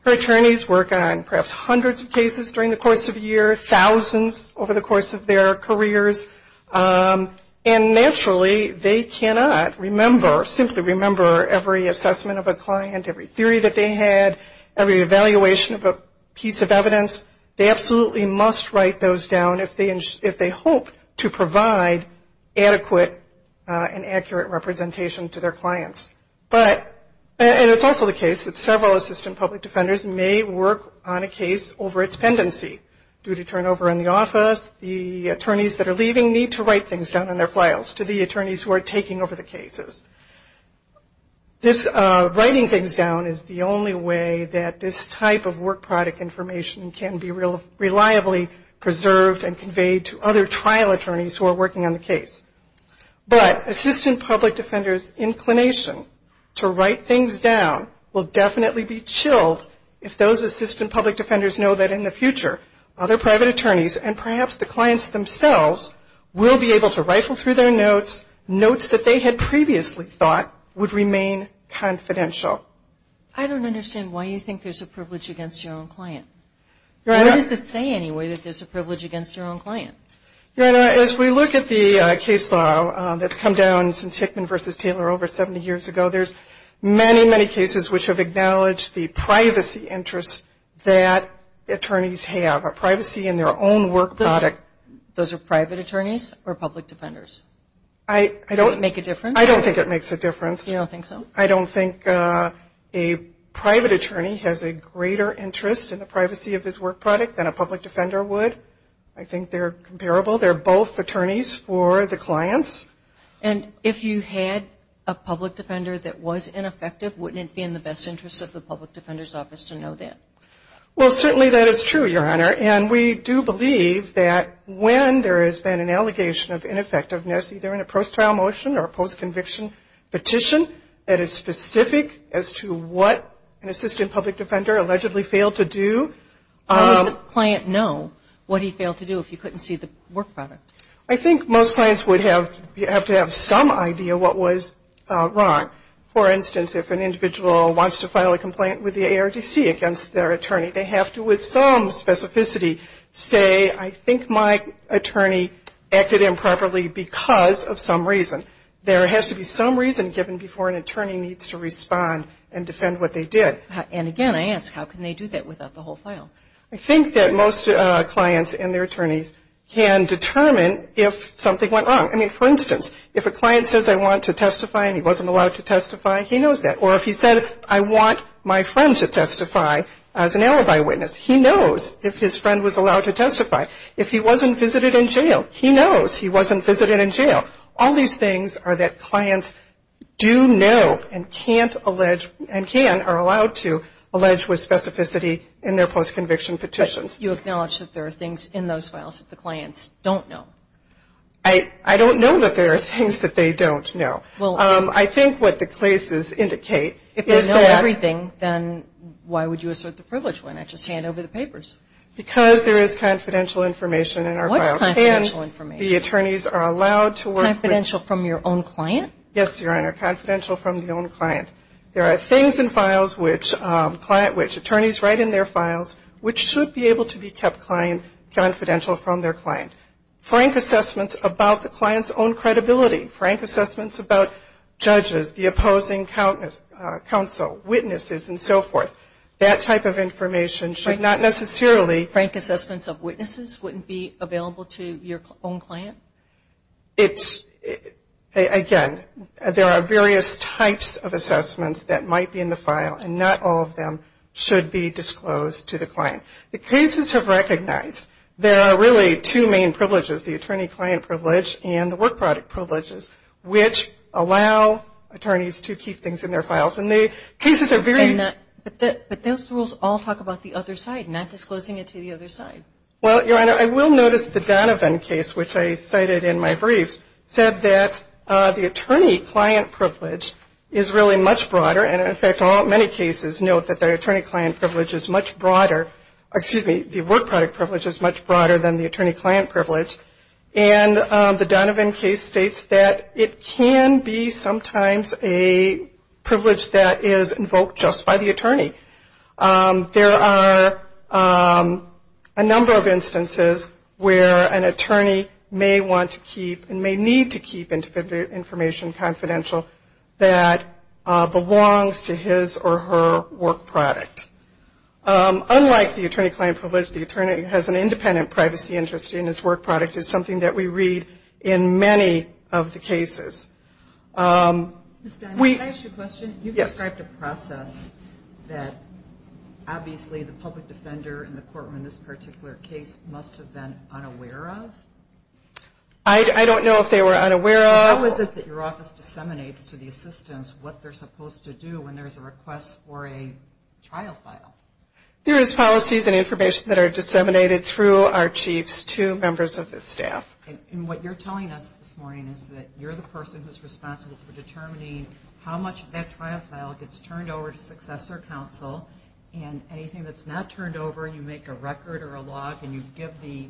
Her attorneys work on perhaps hundreds of cases during the course of a year, thousands over the course of their careers. And naturally they cannot remember, simply remember, every assessment of a client, every theory that they had, every evaluation of a piece of evidence. They absolutely must write those down if they hope to provide adequate and accurate representation to their clients. And it's also the case that several assistant public defenders may work on a case over its pendency. Due to turnover in the office, the attorneys that are leaving need to write things down in their files to the attorneys who are taking over the cases. Writing things down is the only way that this type of work product information can be reliably preserved and conveyed to other trial attorneys who are working on the case. But assistant public defenders' inclination to write things down will definitely be chilled if those assistant public defenders know that in the future other private attorneys and perhaps the clients themselves will be able to rifle through their notes, notes that they had previously thought would remain confidential. I don't understand why you think there's a privilege against your own client. Your Honor. What does it say anyway that there's a privilege against your own client? Your Honor, as we look at the case law that's come down since Hickman v. Taylor over 70 years ago, there's many, many cases which have acknowledged the privacy interests that attorneys have, a privacy in their own work product. Those are private attorneys or public defenders? Does it make a difference? I don't think it makes a difference. You don't think so? I don't think a private attorney has a greater interest in the privacy of his work product than a public defender would. I think they're comparable. They're both attorneys for the clients. And if you had a public defender that was ineffective, wouldn't it be in the best interest of the public defender's office to know that? Well, certainly that is true, Your Honor. And we do believe that when there has been an allegation of ineffectiveness, either in a post-trial motion or a post-conviction petition, that is specific as to what an assistant public defender allegedly failed to do. How would the client know what he failed to do if he couldn't see the work product? I think most clients would have to have some idea what was wrong. For instance, if an individual wants to file a complaint with the ARDC against their attorney, they have to with some specificity say, I think my attorney acted improperly because of some reason. There has to be some reason given before an attorney needs to respond and defend what they did. And again, I ask, how can they do that without the whole file? I think that most clients and their attorneys can determine if something went wrong. I mean, for instance, if a client says I want to testify and he wasn't allowed to testify, he knows that. Or if he said I want my friend to testify as an alibi witness, he knows if his friend was allowed to testify. If he wasn't visited in jail, he knows he wasn't visited in jail. All these things are that clients do know and can't allege and can or are allowed to allege with specificity in their post-conviction petitions. But you acknowledge that there are things in those files that the clients don't know. I don't know that there are things that they don't know. I think what the cases indicate is that If they know everything, then why would you assert the privilege when I just hand over the papers? Because there is confidential information in our files. What confidential information? The attorneys are allowed to work with Confidential from your own client? Yes, Your Honor. Confidential from the own client. There are things in files which attorneys write in their files which should be able to be kept confidential from their client. Frank assessments about the client's own credibility, frank assessments about judges, the opposing counsel, witnesses, and so forth. That type of information should not necessarily Frank assessments of witnesses wouldn't be available to your own client? Again, there are various types of assessments that might be in the file and not all of them should be disclosed to the client. The cases have recognized there are really two main privileges, the attorney-client privilege and the work product privileges, which allow attorneys to keep things in their files. But those rules all talk about the other side, not disclosing it to the other side. Well, Your Honor, I will notice the Donovan case, which I cited in my brief, said that the attorney-client privilege is really much broader. And, in fact, many cases note that the attorney-client privilege is much broader. Excuse me, the work product privilege is much broader than the attorney-client privilege. And the Donovan case states that it can be sometimes a privilege that is invoked just by the attorney. There are a number of instances where an attorney may want to keep and may need to keep information confidential that belongs to his or her work product. Unlike the attorney-client privilege, the attorney has an independent privacy interest in his work product, is something that we read in many of the cases. Ms. Donovan, can I ask you a question? Yes. You described a process that, obviously, the public defender in the courtroom in this particular case must have been unaware of. I don't know if they were unaware of. How is it that your office disseminates to the assistants what they're supposed to do when there's a request for a trial file? There is policies and information that are disseminated through our chiefs to members of the staff. And what you're telling us this morning is that you're the person who's responsible for determining how much of that trial file gets turned over to successor counsel. And anything that's not turned over, you make a record or a log, and you give the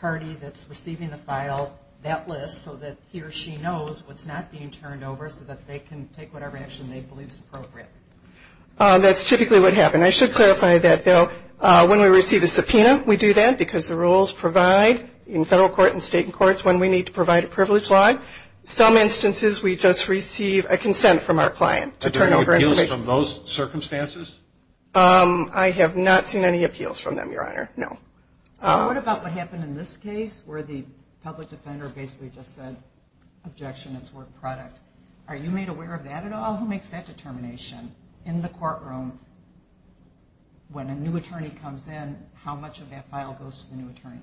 party that's receiving the file that list so that he or she knows what's not being turned over so that they can take whatever action they believe is appropriate. That's typically what happens. I should clarify that, though. When we receive a subpoena, we do that because the rules provide in federal court and state courts when we need to provide a privilege log. Some instances, we just receive a consent from our client to turn over information. Are there any appeals from those circumstances? I have not seen any appeals from them, Your Honor, no. What about what happened in this case where the public defender basically just said, objection, it's work product? Are you made aware of that at all? Who makes that determination in the courtroom when a new attorney comes in, how much of that file goes to the new attorney?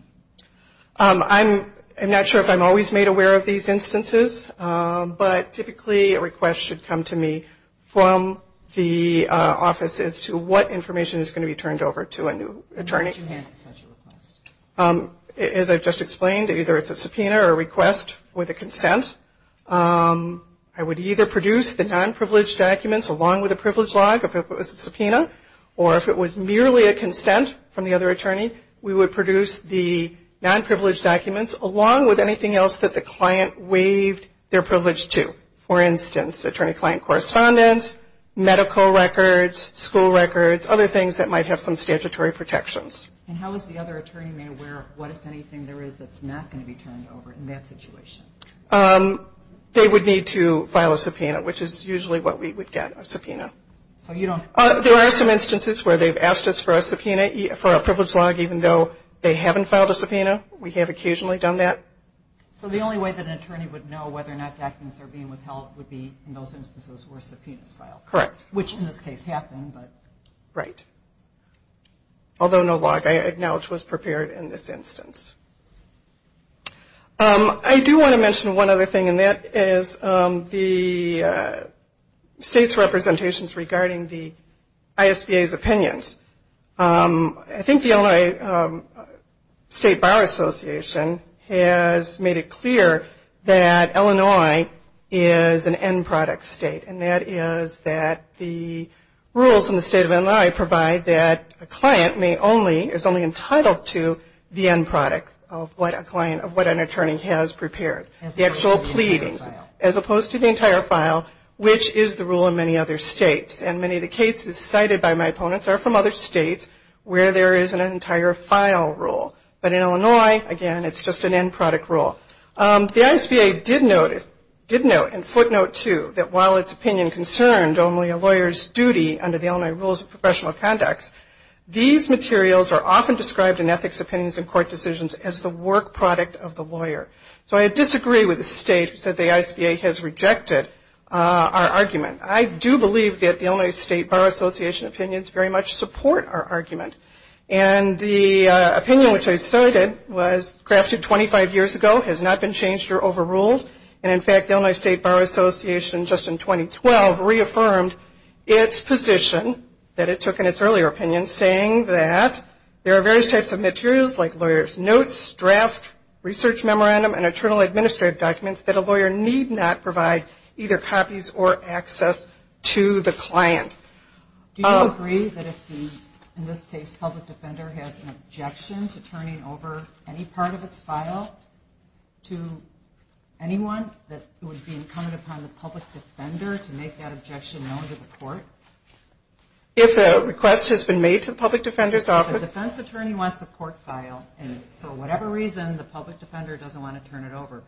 I'm not sure if I'm always made aware of these instances, but typically a request should come to me from the office as to what information is going to be turned over to a new attorney. How would you handle such a request? As I've just explained, either it's a subpoena or a request with a consent. I would either produce the non-privileged documents along with a privilege log, if it was a subpoena, or if it was merely a consent from the other attorney, we would produce the non-privileged documents along with anything else that the client waived their privilege to. For instance, attorney-client correspondence, medical records, school records, other things that might have some statutory protections. Is there anything there is that's not going to be turned over in that situation? They would need to file a subpoena, which is usually what we would get, a subpoena. There are some instances where they've asked us for a subpoena for a privilege log, even though they haven't filed a subpoena. We have occasionally done that. So the only way that an attorney would know whether or not documents are being withheld would be in those instances where a subpoena is filed, which in this case happened. Right. Although no log, I acknowledge, was prepared in this instance. I do want to mention one other thing, and that is the state's representations regarding the ISBA's opinions. I think the Illinois State Bar Association has made it clear that Illinois is an end product state, and that is that the rules in the state of Illinois provide that a client may only or is only entitled to the end product of what an attorney has prepared, the actual pleadings, as opposed to the entire file, which is the rule in many other states. And many of the cases cited by my opponents are from other states where there is an entire file rule. But in Illinois, again, it's just an end product rule. The ISBA did note and footnote, too, that while its opinion concerned only a lawyer's duty under the Illinois Rules of Professional Conduct, these materials are often described in ethics opinions and court decisions as the work product of the lawyer. So I disagree with the state that the ISBA has rejected our argument. I do believe that the Illinois State Bar Association opinions very much support our argument. And the opinion which I cited was crafted 25 years ago, has not been changed or overruled. And, in fact, the Illinois State Bar Association just in 2012 reaffirmed its position that it took in its earlier opinion, saying that there are various types of materials like lawyers' notes, draft, research memorandum, and internal administrative documents that a lawyer need not provide either copies or access to the client. Do you agree that if the, in this case, public defender has an objection to turning over any part of its file to anyone, that it would be incumbent upon the public defender to make that objection known to the court? If a request has been made to the public defender's office? If a defense attorney wants a court file and, for whatever reason, the public defender doesn't want to turn it over,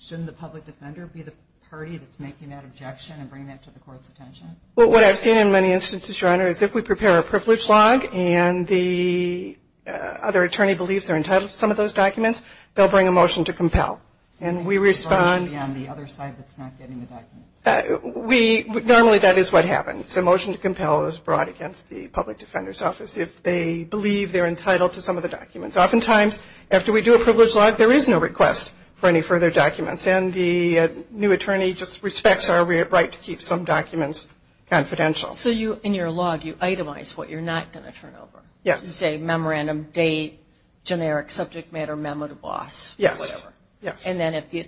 shouldn't the public defender be the party that's making that objection and bringing that to the court's attention? Well, what I've seen in many instances, Your Honor, is if we prepare a privilege log and the other attorney believes they're entitled to some of those documents, they'll bring a motion to compel. And we respond to the other side that's not getting the documents. Normally, that is what happens. A motion to compel is brought against the public defender's office if they believe they're entitled to some of the documents. Oftentimes, after we do a privilege log, there is no request for any further documents. And the new attorney just respects our right to keep some documents confidential. So you, in your log, you itemize what you're not going to turn over? Yes. Say, memorandum, date, generic, subject matter, memo to boss, whatever. Yes. And then if the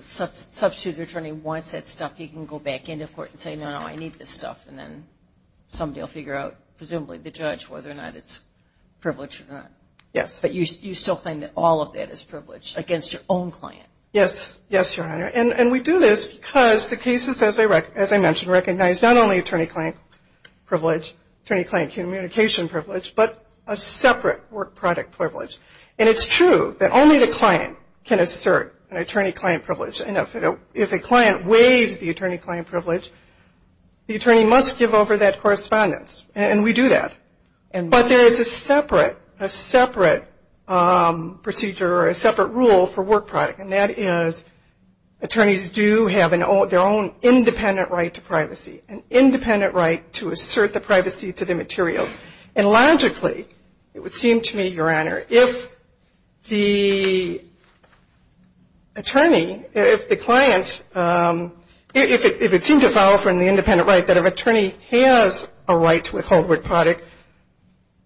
substitute attorney wants that stuff, he can go back into court and say, no, no, I need this stuff, and then somebody will figure out, presumably the judge, whether or not it's privileged or not. Yes. But you still claim that all of that is privileged against your own client? Yes. Yes, Your Honor. And we do this because the cases, as I mentioned, recognize not only attorney-client privilege, attorney-client communication privilege, but a separate work product privilege. And it's true that only the client can assert an attorney-client privilege. And if a client waives the attorney-client privilege, the attorney must give over that correspondence. And we do that. But there is a separate procedure or a separate rule for work product, and that is attorneys do have their own independent right to privacy, an independent right to assert the privacy to the materials. And logically, it would seem to me, Your Honor, if the attorney, if the client, if it seemed to fall from the independent right that if an attorney has a right to withhold work product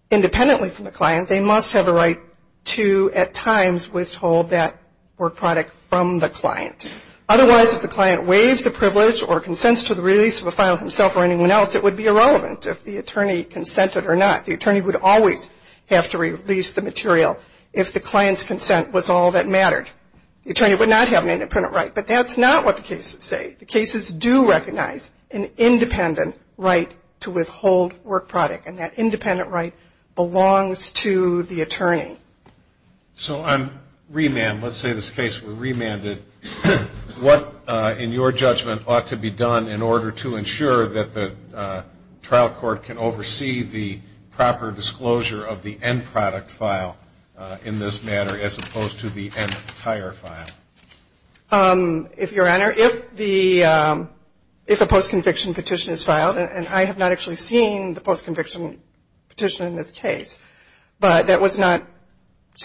independently from the client, they must have a right to, at times, withhold that work product from the client. Otherwise, if the client waives the privilege or consents to the release of a file himself or anyone else, it would be irrelevant if the attorney consented or not. The attorney would always have to release the material if the client's consent was all that mattered. The attorney would not have an independent right. But that's not what the cases say. The cases do recognize an independent right to withhold work product, and that independent right belongs to the attorney. So on remand, let's say this case were remanded, what, in your judgment, ought to be done in order to ensure that the trial court can oversee the proper disclosure of the end product file in this manner as opposed to the entire file? If, Your Honor, if the, if a post-conviction petition is filed, and I have not actually seen the post-conviction petition in this case, but that was not,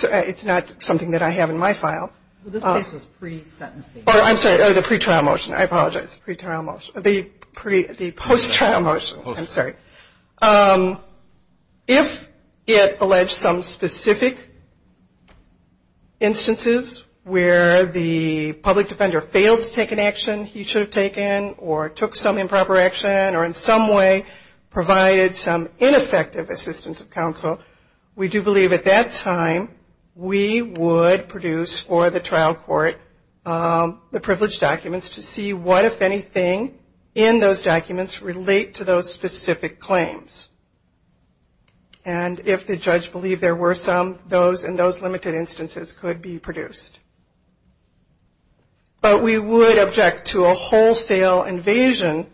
it's not something that I have in my file. Well, this case was pre-sentencing. Oh, I'm sorry, the pretrial motion. I apologize. Pretrial motion. The post-trial motion. Post-trial motion. I'm sorry. If it alleged some specific instances where the public defender failed to take an action he should have taken or took some improper action or in some way provided some ineffective assistance of counsel, we do believe at that time we would produce for the trial court the privileged documents to see what, if anything, in those documents relate to those specific claims. And if the judge believed there were some, those and those limited instances could be produced. But we would object to a wholesale invasion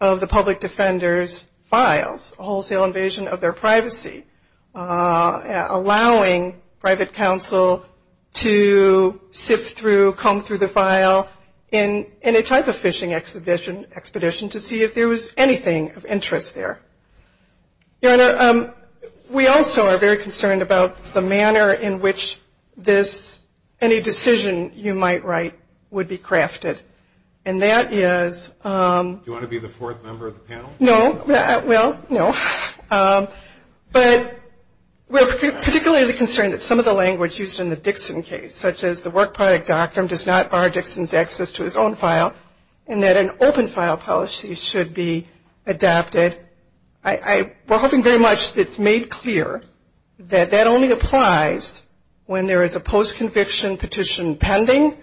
of the public defender's files, a wholesale invasion of their privacy, allowing private counsel to sift through, comb through the file in a type of fishing expedition to see if there was anything of interest there. Your Honor, we also are very concerned about the manner in which this, any decision you might write would be crafted. And that is. Do you want to be the fourth member of the panel? No. Well, no. But we're particularly concerned that some of the language used in the Dixon case, such as the work product doctrine does not bar Dixon's access to his own file, and that an open file policy should be adopted. We're hoping very much it's made clear that that only applies when there is a post-conviction petition pending,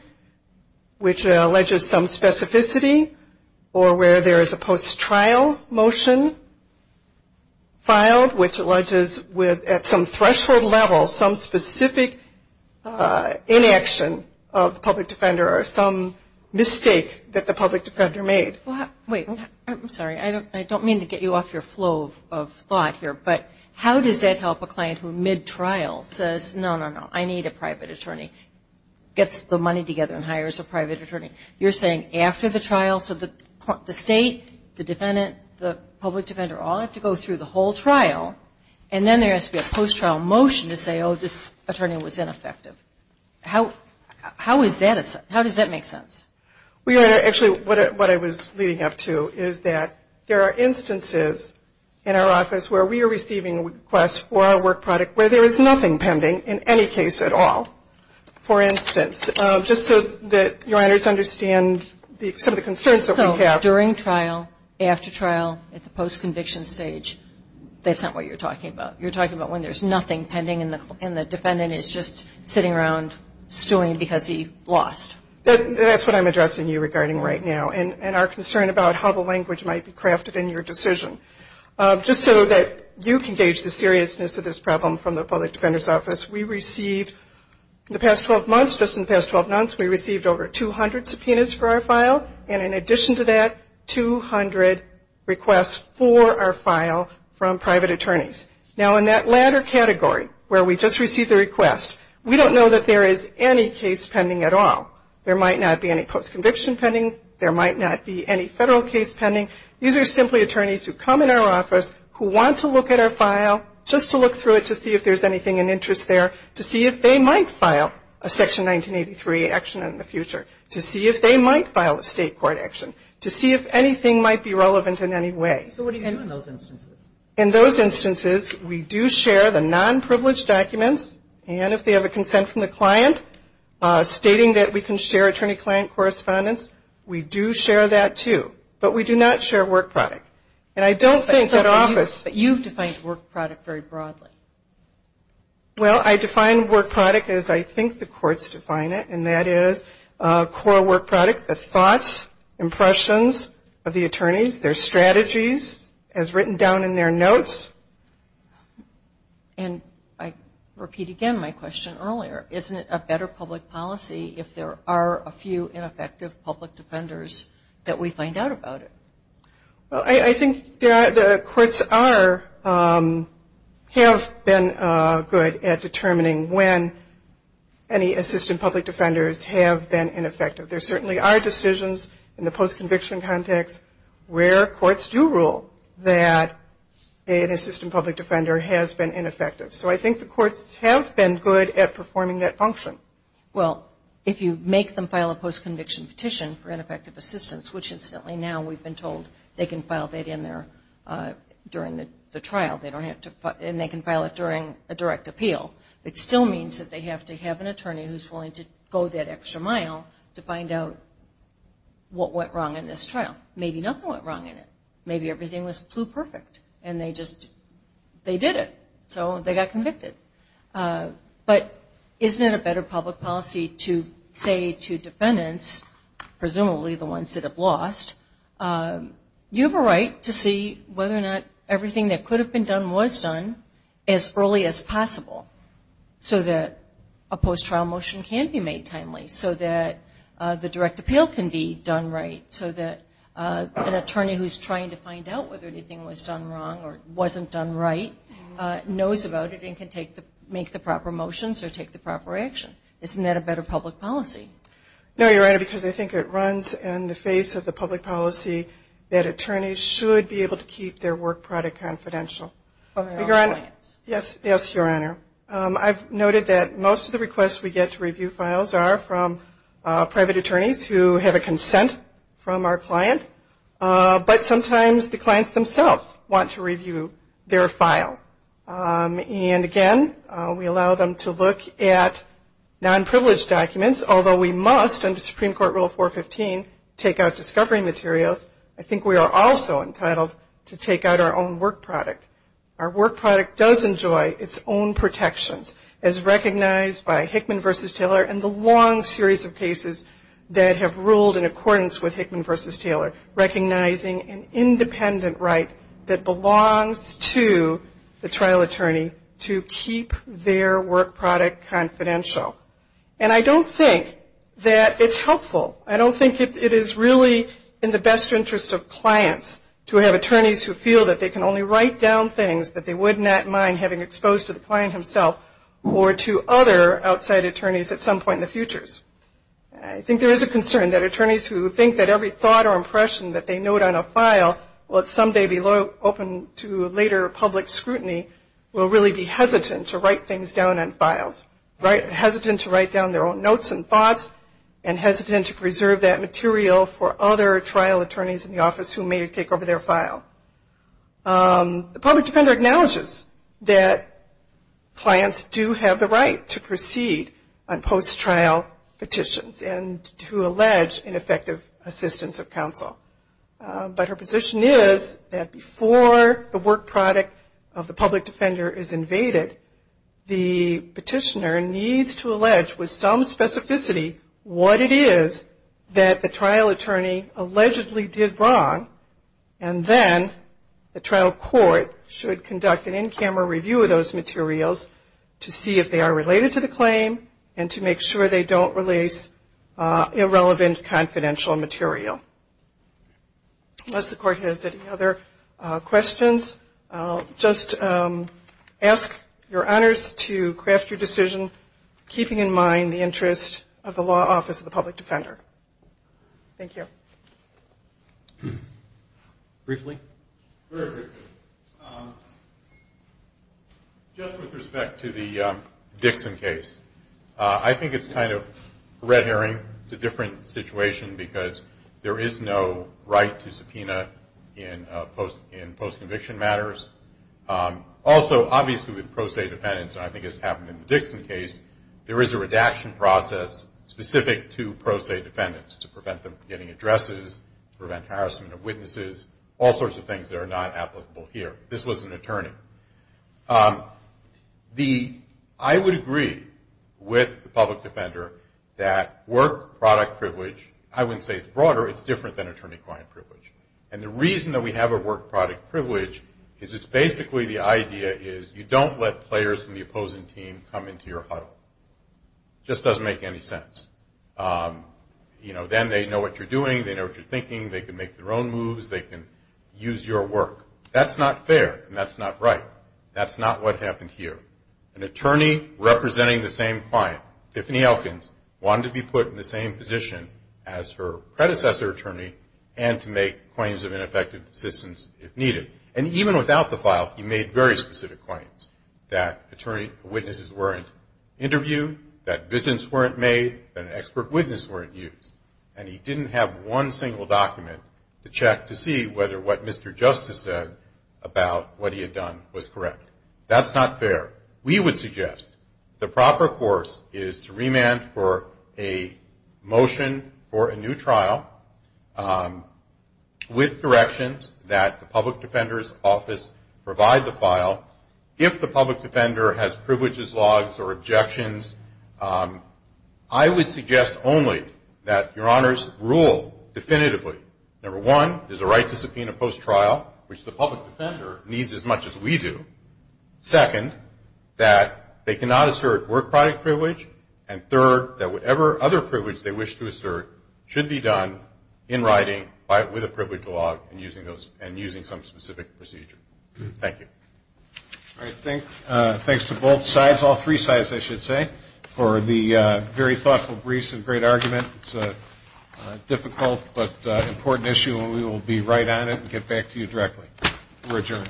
which alleges some specificity, or where there is a post-trial motion filed, which alleges at some threshold level some specific inaction of the public defender or some mistake that the public defender made. Wait. I'm sorry. I don't mean to get you off your flow of thought here, but how does that help a client who mid-trial says, no, no, no, I need a private attorney, gets the money together and hires a private attorney? You're saying after the trial, so the state, the defendant, the public defender, all have to go through the whole trial, and then there has to be a post-trial motion to say, oh, this attorney was ineffective. How does that make sense? Actually, what I was leading up to is that there are instances in our office where we are receiving requests for our work product where there is nothing pending in any case at all. For instance, just so that Your Honors understand some of the concerns that we have. So during trial, after trial, at the post-conviction stage, that's not what you're talking about. You're talking about when there's nothing pending and the defendant is just sitting around stewing because he lost. That's what I'm addressing you regarding right now and our concern about how the language might be crafted in your decision. Just so that you can gauge the seriousness of this problem from the Public Defender's Office, we received in the past 12 months, just in the past 12 months, we received over 200 subpoenas for our file. And in addition to that, 200 requests for our file from private attorneys. Now, in that latter category where we just received the request, we don't know that there is any case pending at all. There might not be any post-conviction pending. There might not be any federal case pending. These are simply attorneys who come in our office who want to look at our file, just to look through it to see if there's anything in interest there, to see if they might file a Section 1983 action in the future, to see if they might file a state court action, to see if anything might be relevant in any way. So what do you do in those instances? In those instances, we do share the non-privileged documents. And if they have a consent from the client, stating that we can share attorney-client correspondence, we do share that too. But we do not share work product. And I don't think that office — But you've defined work product very broadly. Well, I define work product as I think the courts define it, and that is core work product, the thoughts, impressions of the attorneys, their strategies, as written down in their notes. And I repeat again my question earlier. Isn't it a better public policy if there are a few ineffective public defenders that we find out about it? Well, I think the courts have been good at determining when any assistant public defenders have been ineffective. There certainly are decisions in the post-conviction context where courts do rule that an assistant public defender has been ineffective. So I think the courts have been good at performing that function. Well, if you make them file a post-conviction petition for ineffective assistance, which incidentally now we've been told they can file that in there during the trial, and they can file it during a direct appeal, it still means that they have to have an attorney who's willing to go that extra mile to find out what went wrong in this trial. Maybe nothing went wrong in it. Maybe everything flew perfect, and they just did it. So they got convicted. But isn't it a better public policy to say to defendants, presumably the ones that have lost, you have a right to see whether or not everything that could have been done was done as early as possible so that a post-trial motion can be made timely, so that the direct appeal can be done right, so that an attorney who's trying to find out whether anything was done wrong or wasn't done right knows about it and can make the proper motions or take the proper action? Isn't that a better public policy? No, Your Honor, because I think it runs in the face of the public policy that attorneys should be able to keep their work product confidential. Yes, Your Honor. I've noted that most of the requests we get to review files are from private attorneys who have a consent from our client. But sometimes the clients themselves want to review their file. And again, we allow them to look at non-privileged documents, although we must, under Supreme Court Rule 415, take out discovery materials, I think we are also entitled to take out our own work product. Our work product does enjoy its own protections, as recognized by Hickman v. Taylor and the long series of cases that have ruled in accordance with Hickman v. Taylor, recognizing an independent right that belongs to the trial attorney to keep their work product confidential. And I don't think that it's helpful, I don't think it is really in the best interest of clients to have attorneys who feel that they can only write down things that they would not mind having exposed to the client himself or to other outside attorneys at some point in the futures. I think there is a concern that attorneys who think that every thought or impression that they note on a file will someday be open to later public scrutiny will really be hesitant to write things down on files, hesitant to write down their own notes and thoughts, and hesitant to preserve that material for other trial attorneys in the office who may take over their file. The public defender acknowledges that clients do have the right to proceed on post-trial petitions and to allege ineffective assistance of counsel. But her position is that before the work product of the public defender is invaded, the petitioner needs to allege with some specificity what it is that the trial attorney allegedly did wrong, and then the trial court should conduct an in-camera review of those materials to see if they are related to the claim and to make sure they don't release irrelevant confidential material. Unless the court has any other questions, I'll just ask your honors to craft your decision, keeping in mind the interest of the law office of the public defender. Thank you. Briefly? Very briefly. Just with respect to the Dixon case, I think it's kind of a red herring. It's a different situation because there is no right to subpoena in post-conviction matters. Also, obviously with pro se defendants, and I think it's happened in the Dixon case, there is a redaction process specific to pro se defendants to prevent them from getting addresses, prevent harassment of witnesses, all sorts of things that are not applicable here. This was an attorney. I would agree with the public defender that work product privilege, I wouldn't say it's broader, it's different than attorney-client privilege. And the reason that we have a work product privilege is it's basically the idea is you don't let players from the opposing team come into your huddle. It just doesn't make any sense. Then they know what you're doing, they know what you're thinking, they can make their own moves, they can use your work. That's not fair and that's not right. That's not what happened here. An attorney representing the same client, Tiffany Elkins, wanted to be put in the same position as her predecessor attorney and to make claims of ineffective assistance if needed. And even without the file, he made very specific claims. That witnesses weren't interviewed, that visits weren't made, that expert witnesses weren't used. And he didn't have one single document to check to see whether what Mr. Justice said about what he had done was correct. That's not fair. We would suggest the proper course is to remand for a motion for a new trial with directions that the public defender's office provide the file. If the public defender has privileges, logs, or objections, I would suggest only that your honors rule definitively. Number one, there's a right to subpoena post-trial, which the public defender needs as much as we do. Second, that they cannot assert work product privilege. And third, that whatever other privilege they wish to assert should be done in writing with a privilege log and using some specific procedure. Thank you. All right, thanks to both sides, all three sides, I should say, for the very thoughtful briefs and great argument. It's a difficult but important issue, and we will be right on it and get back to you directly. We're adjourned.